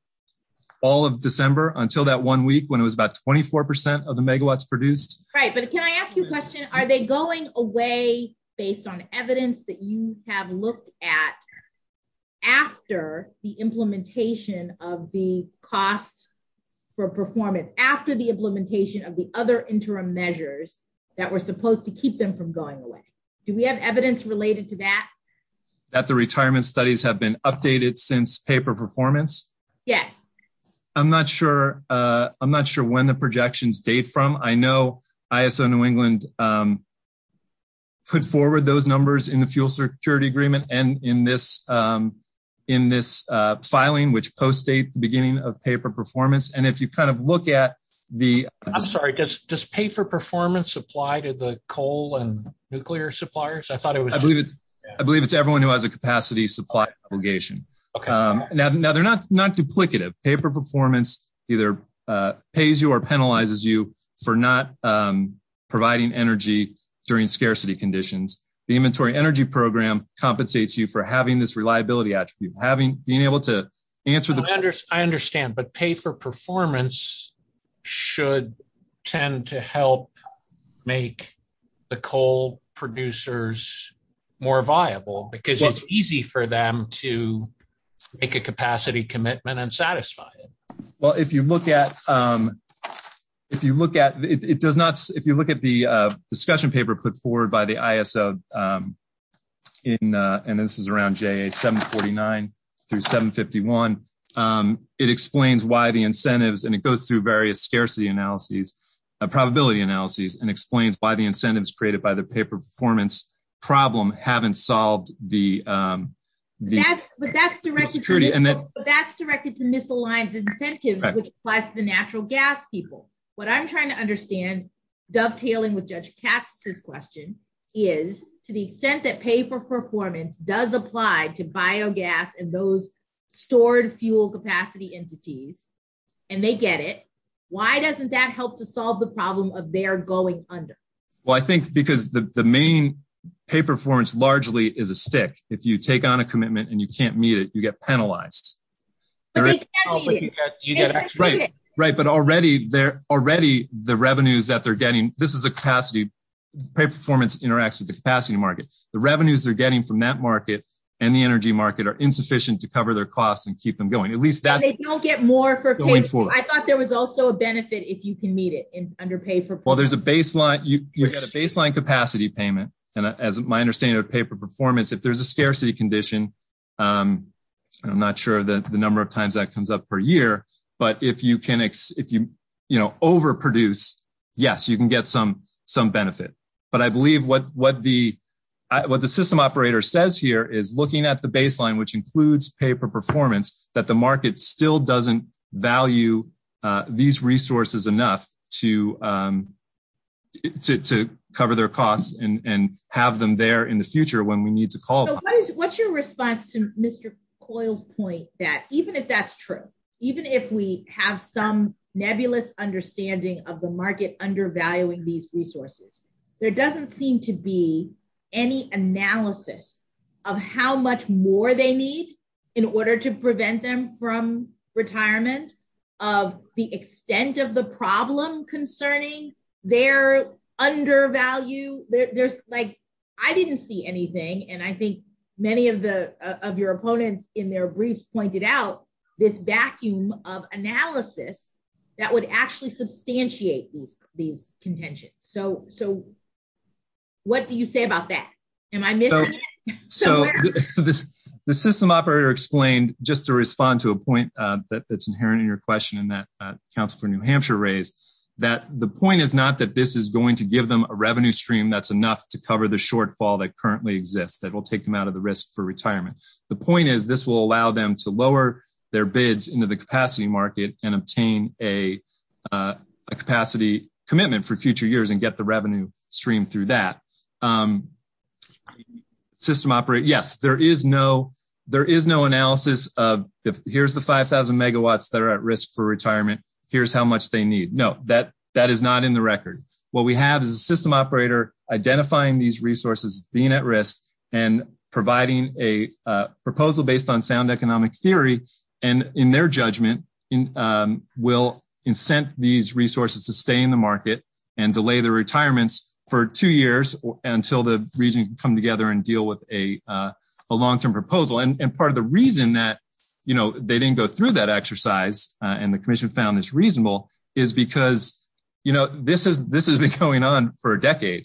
all of December until that one week when it was about 24% of the megawatts produced. Right, but can I ask you a question? Are they going away based on evidence that you have looked at after the implementation of the cost for performance, after the implementation of the other interim measures that were supposed to keep them from going away? Do we have evidence related to that? That the retirement studies have been updated since paper performance? Yes. I'm not sure when the projections date from. I know ISO New England put forward those numbers in the fuel security agreement and in this filing, which post-date the beginning of paper performance. And if you kind of look at the- I'm sorry, does paper performance apply to the coal and nuclear suppliers? I thought it was- I believe it's everyone who has a capacity supply obligation. Okay. Now they're not duplicative. Paper performance either pays you or penalizes you for not providing energy during scarcity conditions. The inventory energy program compensates you for having this reliability attribute, being able to answer the- I understand, but paper performance should tend to help make the coal producers more viable because it's easy for them to make a capacity commitment and satisfy it. Well, if you look at the discussion paper put forward by the ISO in, and this is around J749 through 751, it explains why the incentives, and it goes through various scarcity analyses, a probability analysis, and explains why the incentives created by the paper performance problem haven't solved the- But that's directed to misaligned incentives which applies to the natural gas people. What I'm trying to understand, dovetailing with Judge Caster's question, is to the extent that paper performance does apply to biogas and those stored fuel capacity entities, and they get it, why doesn't that help to solve the problem of their going under? Well, I think because the main paper performance largely is a stick. If you take on a commitment and you can't meet it, you get penalized. But they can't meet it. Right, but already the revenues that they're getting, this is a capacity, paper performance interacts with the capacity market. The revenues they're getting from that market and the energy market are insufficient to cover their costs and keep them going. At least that's- And they don't get more for paper. I thought there was also a benefit if you can meet it under paper performance. Well, there's a baseline, you get a baseline capacity payment, and as my understanding of paper performance, if there's a scarcity condition, I'm not sure the number of times that comes up per year, but if you overproduce, yes, you can get some benefit. But I believe what the system operator says here is looking at the baseline, which includes paper performance, that the market still doesn't value these resources enough to cover their costs and have them there in the future when we need to call them. What's your response to Mr. Coyle's point that even if that's true, even if we have some nebulous understanding of the market undervaluing these resources, there doesn't seem to be any analysis of how much more they need in order to prevent them from retirement, of the extent of the problem concerning their undervalue. Like, I didn't see anything, and I think many of your opponents in their briefs pointed out this vacuum of analysis that would actually substantiate these contentions. So what do you say about that? And I missed it. So the system operator explained, just to respond to a point that's inherent in your question that Councilor New Hampshire raised, that the point is not that this is going to give them a revenue stream that's enough to cover the shortfall that currently exists that will take them out of the risk for retirement. The point is this will allow them to lower their bids into the capacity market and obtain a capacity commitment for future years and get the revenue stream through that. System operator, yes, there is no analysis of here's the 5,000 megawatts that are at risk for retirement, here's how much they need. No, that is not in the record. What we have is a system operator identifying these resources being at risk and providing a proposal based on sound economic theory and in their judgment will incent these resources to stay in the market and delay their retirements for two years until the region can come together and deal with a long-term proposal. And part of the reason that they didn't go through that exercise and the commission found this reasonable is because this has been going on for a decade,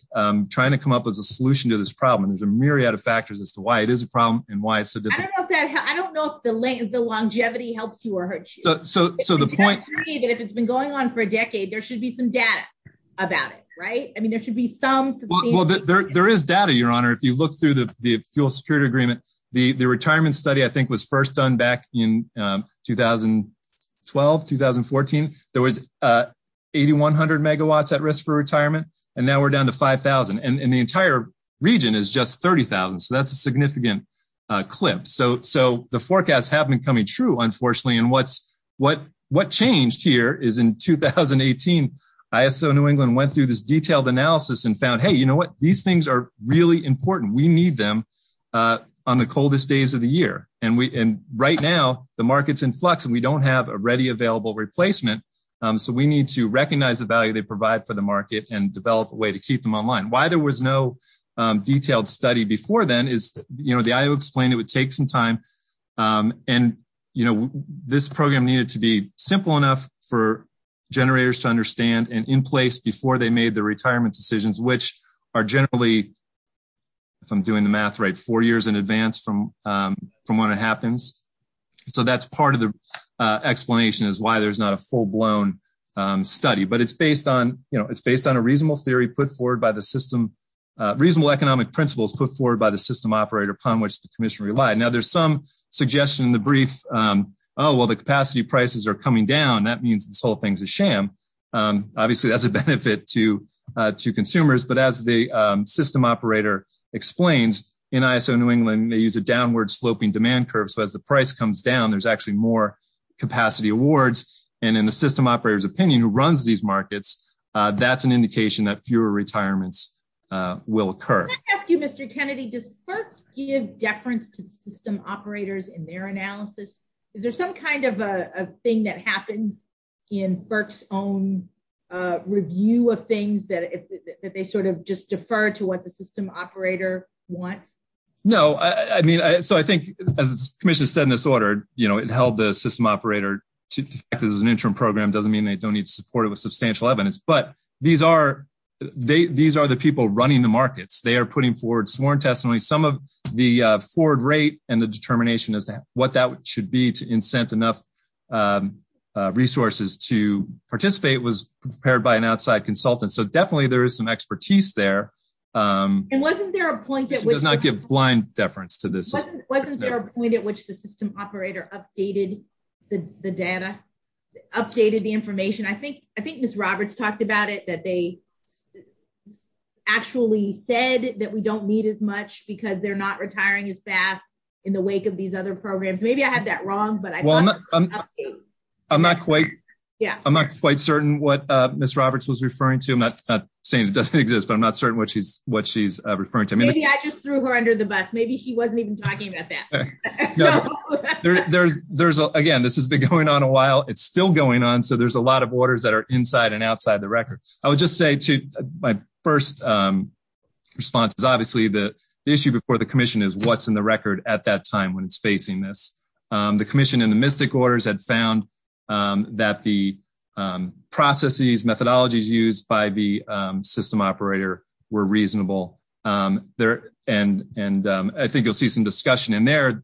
trying to come up with a solution to this problem. There's a myriad of factors as to why it is a problem and why it's significant. I don't know if the longevity helps you or hurts you. So the point- If it's been going on for a decade, there should be some data about it, right? I mean, there should be some- Well, there is data, Your Honor. If you look through the dual security agreement, the retirement study, I think, was first done back in 2012, 2014. There was 8,100 megawatts at risk for retirement. And now we're down to 5,000. And the entire region is just 30,000. So that's a significant clip. So the forecasts have been coming true, unfortunately. And what changed here is in 2018, ISO New England went through this detailed analysis and found, hey, you know what? These things are really important. We need them on the coldest days of the year. And right now, the market's in flux and we don't have a ready available replacement. So we need to recognize the value they provide for the market and develop a way to keep them online. Why there was no detailed study before then is the IO explained it would take some time. And this program needed to be simple enough for generators to understand and in place before they made the retirement decisions, which are generally, if I'm doing the math right, four years in advance from when it happens. So that's part of the explanation is why there's not a full-blown study. But it's based on a reasonable theory put forward by the system, reasonable economic principles put forward by the system operator upon which the commission relied. Now there's some suggestion in the brief, oh, well, the capacity prices are coming down. That means this whole thing's a sham. Obviously that's a benefit to consumers, but as the system operator explains, in ISO New England, they use a downward sloping demand curve. So as the price comes down, there's actually more capacity awards. And in the system operator's opinion, who runs these markets, that's an indication that fewer retirements will occur. Can I ask you, Mr. Kennedy, does FERC give deference to system operators in their analysis? Is there some kind of a thing that happens in FERC's own review of things that they sort of just defer to what the system operator wants? No, I mean, so I think as the commission said in this order, you know, it held the system operator to an interim program doesn't mean they don't need to support it with substantial evidence, but these are the people running the markets. They are putting forward sworn testimony. Some of the forward rate and the determination as to what that should be to incent enough resources to participate was prepared by an outside consultant. So definitely there is some expertise there. And wasn't there a point at which... It does not give blind deference to this. Wasn't there a point at which the system operator updated the data, updated the information? I think Ms. Roberts talked about it, that they actually said that we don't need as much because they're not retiring as fast in the wake of these other programs. Maybe I had that wrong, but I thought it was an update. I'm not quite certain what Ms. Roberts was referring to. I'm not saying it doesn't exist, but I'm not certain what she's referring to. Maybe I just threw her under the bus. Maybe she wasn't even talking about that. Again, this has been going on a while. It's still going on, so there's a lot of orders that are inside and outside the records. I would just say to my first response is obviously the issue before the commission is what's in the record at that time when it's facing this. The commission in the MISTIC orders had found that the processes, methodologies used by the system operator were reasonable. I think you'll see some discussion in there.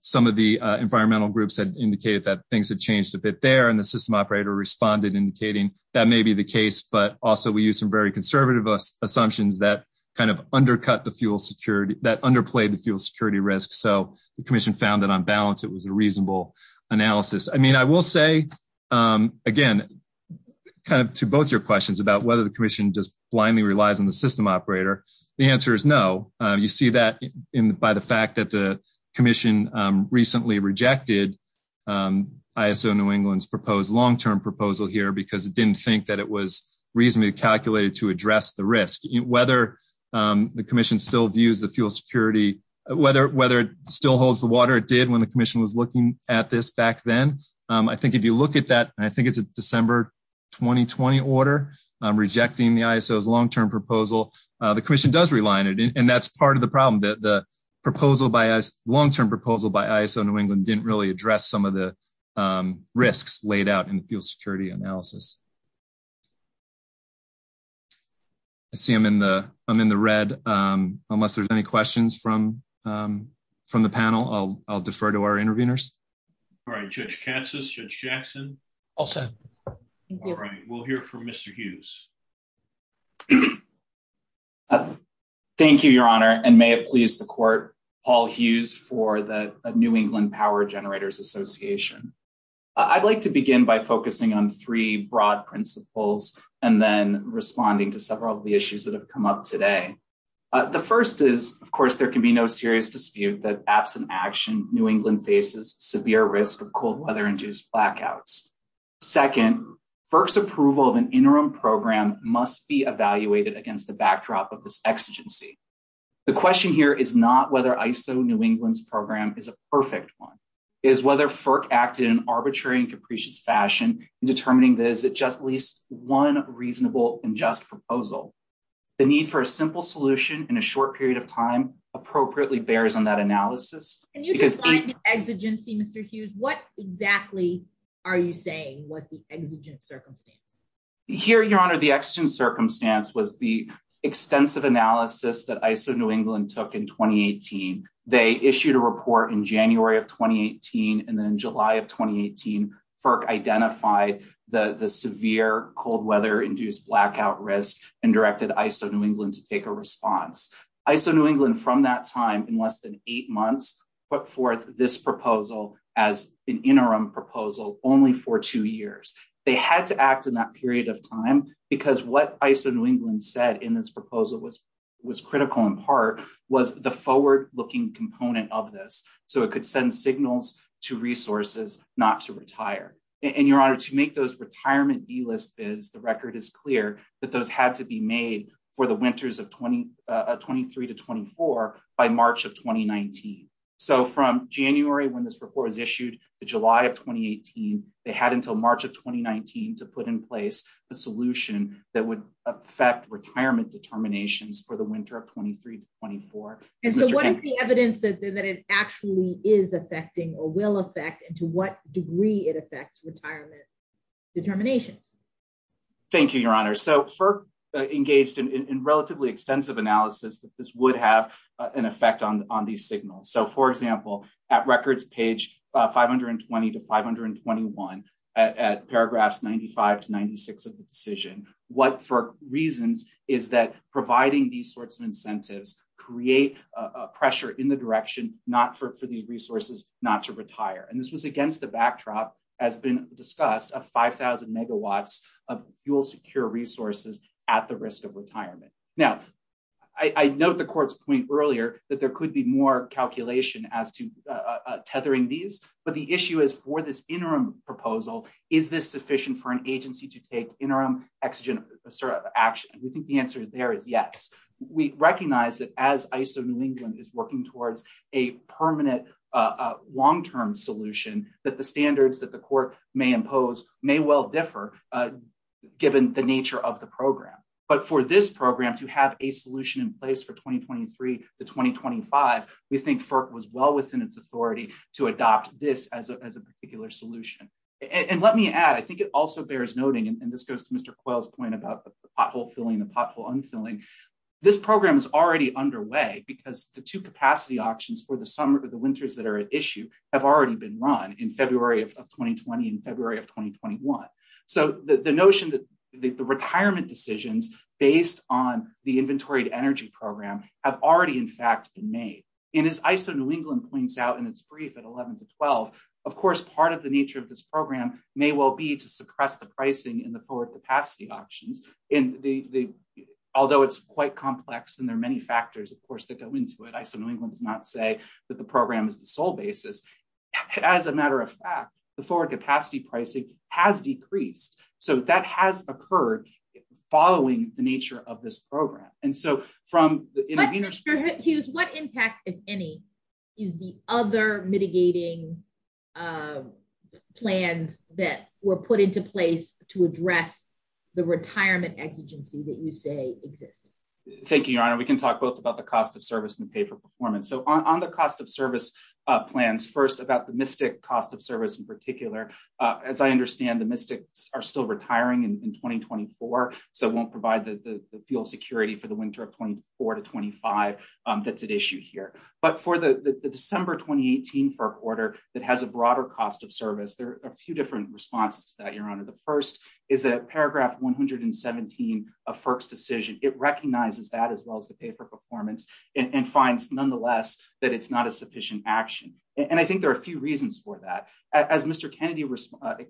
Some of the environmental groups had indicated that things had changed a bit there and the system operator responded, indicating that may be the case, but also we used some very conservative assumptions that kind of undercut the fuel security, that underplayed the fuel security risks. So the commission found that on balance, it was a reasonable analysis. I mean, I will say, again, kind of to both your questions about whether the commission just blindly relies on the system operator, the answer is no. You see that by the fact that the commission recently rejected ISO New England's proposed long-term proposal here because it didn't think that it was reasonably calculated to address the risk. whether it still holds the water it did when the commission was looking at this back then. I think if you look at that, and I think it's a December, 2020 order, rejecting the ISO's long-term proposal, the commission does rely on it. And that's part of the problem, that the long-term proposal by ISO New England didn't really address some of the risks laid out in the fuel security analysis. I see I'm in the red, unless there's any questions from the panel, I'll defer to our interviewers. All right, Judge Katsas, Judge Jackson. All set. All right, we'll hear from Mr. Hughes. Thank you, your honor, and may it please the court, Paul Hughes for the New England Power Generators Association. I'd like to begin by focusing on three broad principles and then responding to several of the issues that have come up today. The first is, of course, there can be no serious dispute that absent action, New England faces severe risk of cold weather induced blackouts. Second, FERC's approval of an interim program must be evaluated against the backdrop of this exigency. The question here is not whether ISO New England's program is a perfect one, is whether FERC acted in arbitrary and capricious fashion in determining this at just least one reasonable and just proposal. The need for a simple solution in a short period of time appropriately bears on that analysis. Can you explain the exigency, Mr. Hughes? What exactly are you saying was the exigent circumstance? Here, your honor, the exigent circumstance was the extensive analysis that ISO New England took in 2018. They issued a report in January of 2018, and then in July of 2018, FERC identified the severe cold weather induced blackout risk and directed ISO New England to take a response. ISO New England, from that time, in less than eight months, put forth this proposal as an interim proposal only for two years. They had to act in that period of time because what ISO New England said in this proposal was critical in part was the forward-looking component of this, so it could send signals to resources not to retire. And your honor, to make those retirement D-list bids, the record is clear that those had to be made for the winters of 23 to 24 by March of 2019. So from January when this report was issued to July of 2018, they had until March of 2019 to put in place a solution that would affect retirement determinations for the winter of 23 to 24. And so what is the evidence that it actually is affecting or will affect and to what degree it affects retirement determination? Thank you, your honor. So FERC engaged in relatively extensive analysis that this would have an effect on these signals. So for example, at records page 520 to 521 at paragraphs 95 to 96 of the decision, what for reasons is that providing these sorts of incentives create a pressure in the direction not for these resources not to retire. And this was against the backdrop as been discussed of 5,000 megawatts of fuel secure resources at the risk of retirement. Now, I note the court's point earlier that there could be more calculation as to tethering these, but the issue is for this interim proposal, is this sufficient for an agency to take interim exogenous sort of action? We think the answer there is yes. We recognize that as ISO New England is working towards a permanent long-term solution that the standards that the court may impose may well differ given the nature of the program. But for this program to have a solution in place for 2023 to 2025, we think FERC was well within its authority to adopt this as a particular solution. And let me add, I think it also bears noting, and this goes to Mr. Quayle's point about the pothole filling, the pothole unfilling. This program is already underway because the two capacity options for the summer to the winters that are at issue have already been run in February of 2020 and February of 2021. So the notion that the retirement decisions based on the inventory to energy program have already in fact been made. And as ISO New England points out in its brief at 11 to 12, of course, part of the nature of this program may well be to suppress the pricing in the four capacity options. Although it's quite complex and there are many factors, of course, that go into it, ISO New England would not say that the program is the sole basis. As a matter of fact, the four capacity pricing has decreased. So that has occurred following the nature of this program. And so from the intervening- Mr. Hughes, what impact, if any, is the other mitigating plans that were put into place to address the retirement exigency that you say exists? Thank you, Your Honor. We can talk both about the cost of service and pay for performance. So on the cost of service plans, first about the MSTIC cost of service in particular. As I understand, the MSTIC are still retiring in 2024. So it won't provide the field security for the winter of 24 to 25 that's at issue here. But for the December 2018 FERC order that has a broader cost of service, there are two different responses to that, Your Honor. The first is that paragraph 117 of FERC's decision. It recognizes that as well as the pay for performance and finds nonetheless that it's not a sufficient action. And I think there are a few reasons for that. As Mr. Kennedy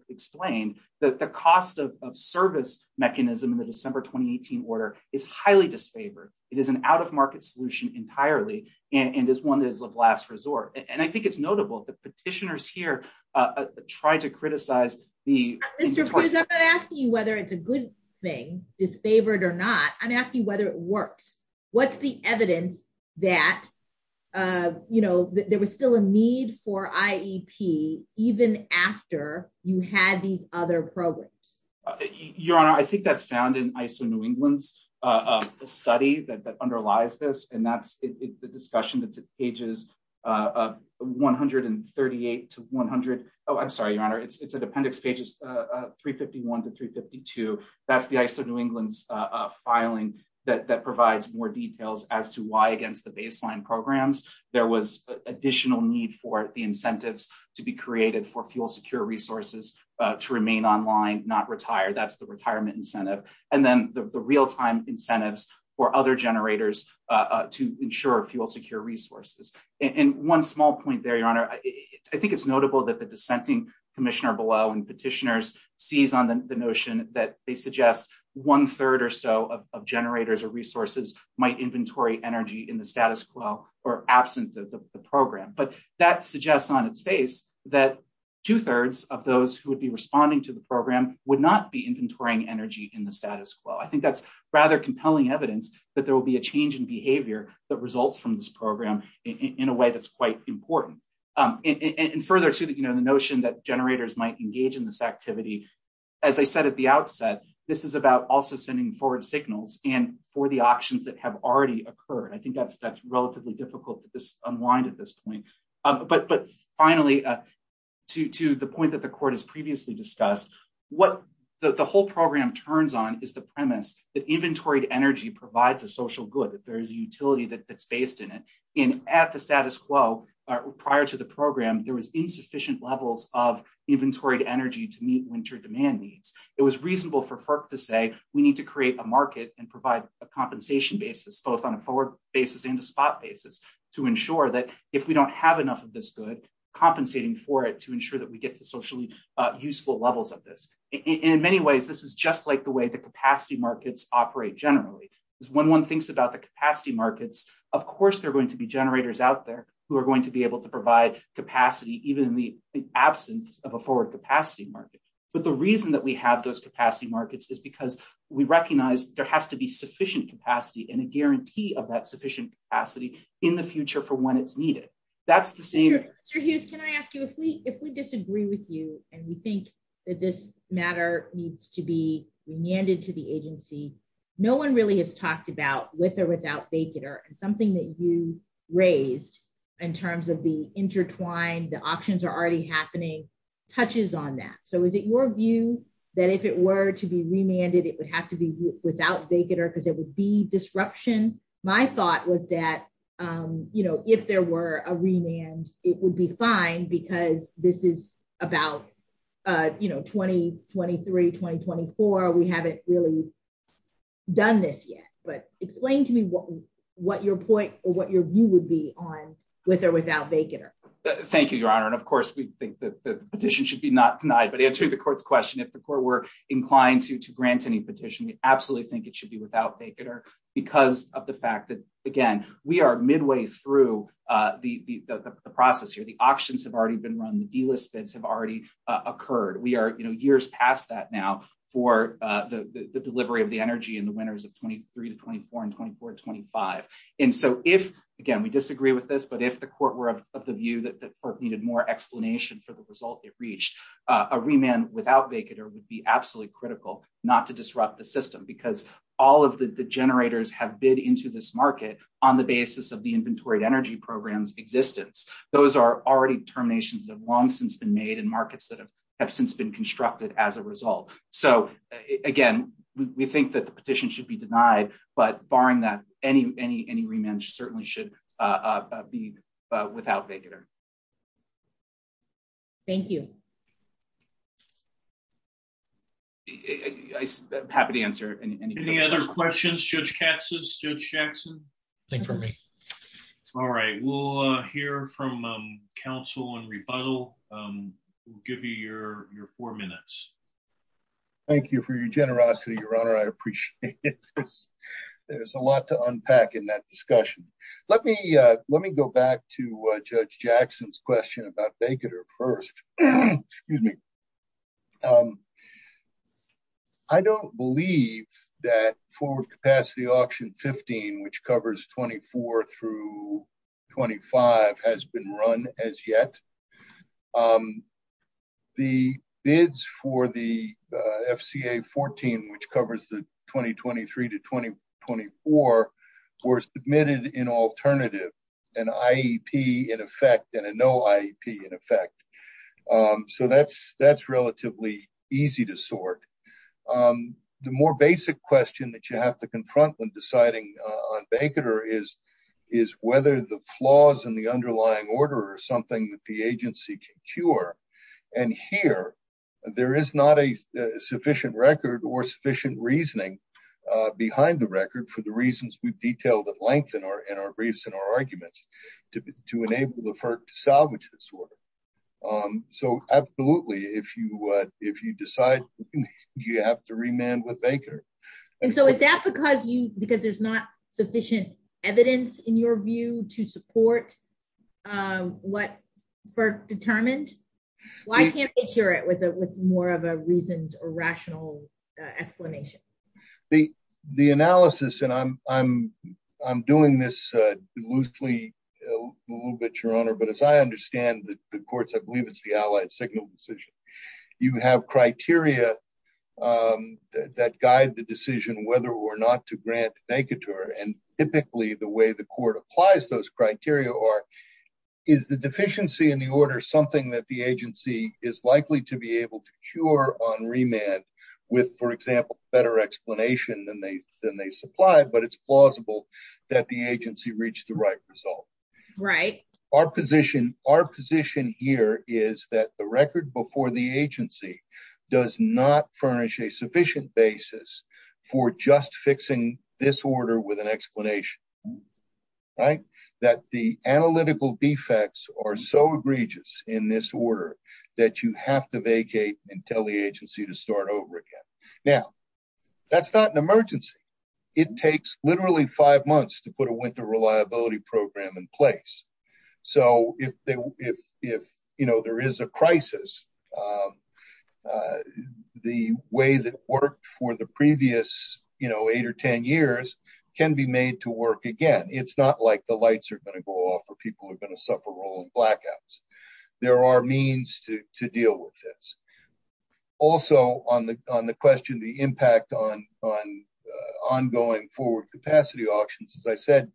explained, that the cost of service mechanism in the December 2018 order is highly disfavored. It is an out-of-market solution entirely and is one that is of last resort. And I think it's notable that petitioners here try to criticize the- Mr. Hughes, I'm not asking you whether it's a good thing, disfavored or not. I'm asking you whether it works. What's the evidence that there was still a need for IEP even after you had these other programs? Your Honor, I think that's found in ISO New England's study that underlies this. And it's the discussion that's at pages 138 to 100. Oh, I'm sorry, Your Honor. It's at appendix pages 351 to 352. That's the ISO New England's filing that provides more details as to why against the baseline programs, there was additional need for the incentives to be created for fuel secure resources to remain online, not retire. That's the retirement incentive. And then the real-time incentives for other generators to ensure fuel secure resources. And one small point there, Your Honor, I think it's notable that the dissenting commissioner below and petitioners sees on the notion that they suggest one-third or so of generators or resources might inventory energy in the status quo or absence of the program. But that suggests on its face that two-thirds of those who would be responding to the program would not be inventorying energy in the status quo. I think that's rather compelling evidence that there will be a change in behavior that results from this program in a way that's quite important. And further to the notion that generators might engage in this activity, as I said at the outset, this is about also sending forward signals and for the auctions that have already occurred. I think that's relatively difficult to just unwind at this point. But finally, to the point that the court has previously discussed, what the whole program turns on is the premise that inventory energy provides a social good, that there is a utility that's based in it. And at the status quo, prior to the program, there was insufficient levels of inventory energy to meet winter demand needs. It was reasonable for FERC to say, we need to create a market and provide a compensation basis, both on a forward basis and a spot basis to ensure that if we don't have enough of this good, compensating for it to ensure that we get to socially useful levels of this. And in many ways, this is just like the way the capacity markets operate generally, is when one thinks about the capacity markets, of course, there are going to be generators out there who are going to be able to provide capacity even in the absence of a forward capacity market. But the reason that we have those capacity markets is because we recognize there has to be sufficient capacity and a guarantee of that sufficient capacity in the future for when it's needed. That's the same- Mr. Hughes, can I ask you, if we disagree with you, and we think that this matter needs to be remanded to the agency, no one really has talked about with or without BAKER, something that you raised in terms of the intertwined, the options are already happening, touches on that. So is it your view that if it were to be remanded, it would have to be without BAKER because there would be disruption? My thought was that if there were a remand, it would be fine because this is about 2023, 2024. We haven't really done this yet, but explain to me what your point or what your view would be on with or without BAKER. Thank you, Your Honor. And of course, we think that the petition should be not denied. But to answer the court's question, if the court were inclined to grant any petition, we absolutely think it should be without BAKER because of the fact that, again, we are midway through the process here. The auctions have already been run. The delist bids have already occurred. We are years past that now for the delivery of the energy in the winters of 2023, 2024, and 2024 to 2025. And so if, again, we disagree with this, but if the court were of the view that the court needed more explanation for the result it reached, a remand without BAKER would be absolutely critical not to disrupt the system because all of the generators have bid into this market on the basis of the Inventory to Energy Program's existence. Those are already terminations that have long since been made in markets that have since been constructed as a result. So again, we think that the petition should be denied, but barring that, any remand certainly should be without BAKER. Thank you. I'm happy to answer any questions. Any other questions, Judge Katz's, Judge Jackson? Think for me. All right, we'll hear from counsel and rebuttal. Thank you for your generosity, Your Honor. I appreciate it. There's a lot to unpack in that discussion. Let me go back to Judge Jackson's question about BAKER first. Excuse me. I don't believe that Forward Capacity Auction 15, which covers 24 through 25 has been run as yet. The bids for the FCA 14, which covers the 2023 to 2024 were submitted in alternative, an IEP in effect and a no IEP in effect. So that's relatively easy to sort. The more basic question that you have to confront when deciding on BAKER is whether the flaws in the underlying order are something that the agency can cure. And here, there is not a sufficient record or sufficient reasoning behind the record for the reasons we've detailed at length in our briefs and our arguments to enable the FERC to salvage this order. So absolutely, if you decide, you have to remand with BAKER. And so is that because there's not sufficient evidence in your view to support what FERC determined? Why can't they cure it with more of a reasoned or rational explanation? The analysis, and I'm doing this loosely a little bit, Your Honor, but as I understand the courts, I believe it's the Allied Signal decision. You have criteria that guide the decision whether or not to grant BAKER to her. And typically, the way the court applies those criteria are, is the deficiency in the order something that the agency is likely to be able to cure on remand with, for example, better explanation than they supply, but it's plausible that the agency reached the right result. Right. Our position here is that the record before the agency does not furnish a sufficient basis for just fixing this order with an explanation, right? That the analytical defects are so egregious in this order that you have to vacate and tell the agency to start over again. Now, that's not an emergency. It takes literally five months to put a winter reliability program in place. So if there is a crisis, the way that worked for the previous eight or 10 years can be made to work again. It's not like the lights are gonna go off or people are gonna suffer rolling blackouts. There are means to deal with this. Also on the question, the impact on ongoing forward capacity auctions, as I said,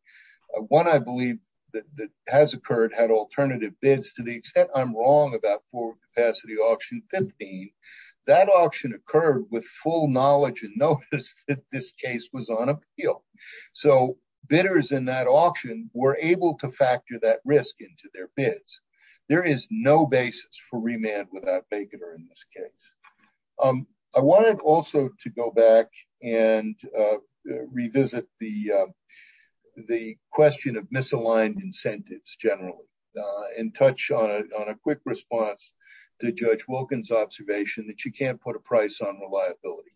one I believe that has occurred had alternative bids. To the extent I'm wrong about forward capacity auction 15, that auction occurred with full knowledge and notice that this case was on appeal. So bidders in that auction were able to factor that risk into their bids. There is no basis for remand without vacater in this case. I wanted also to go back and revisit the question of misaligned incentives generally and touch on a quick response to Judge Wilkins' observation that you can't put a price on reliability.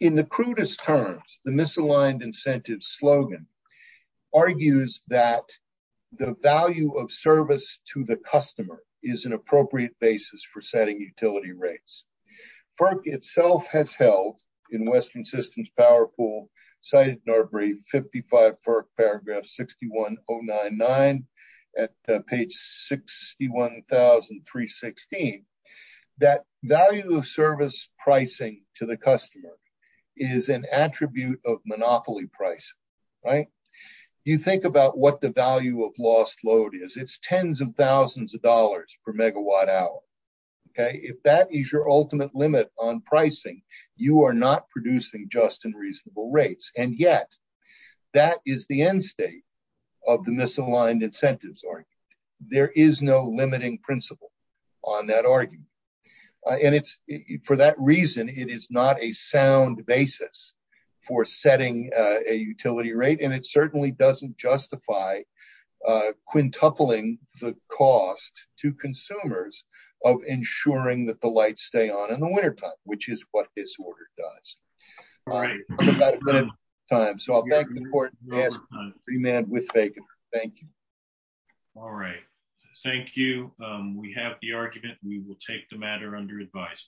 In the crudest terms, the misaligned incentives slogan argues that the value of service to the customer is an appropriate basis for setting utility rates. FERC itself has held in Western Systems Power Pool cited in our brief 55 FERC paragraph 61099 at page 61,316. That value of service pricing to the customer is an attribute of monopoly pricing, right? You think about what the value of lost load is. It's tens of thousands of dollars per megawatt hour, okay? If that is your ultimate limit on pricing, you are not producing just and reasonable rates. And yet, that is the end state of the misaligned incentives argument. There is no limiting principle on that argument. And for that reason, it is not a sound basis for setting a utility rate and it certainly doesn't justify quintupling the cost to consumers of ensuring that the lights stay on in the wintertime, which is what this order does. All right, we're out of time. So I'll be asking the court to ask a free man with Fagan. Thank you. All right, thank you. We have the argument. We will take the matter under advice.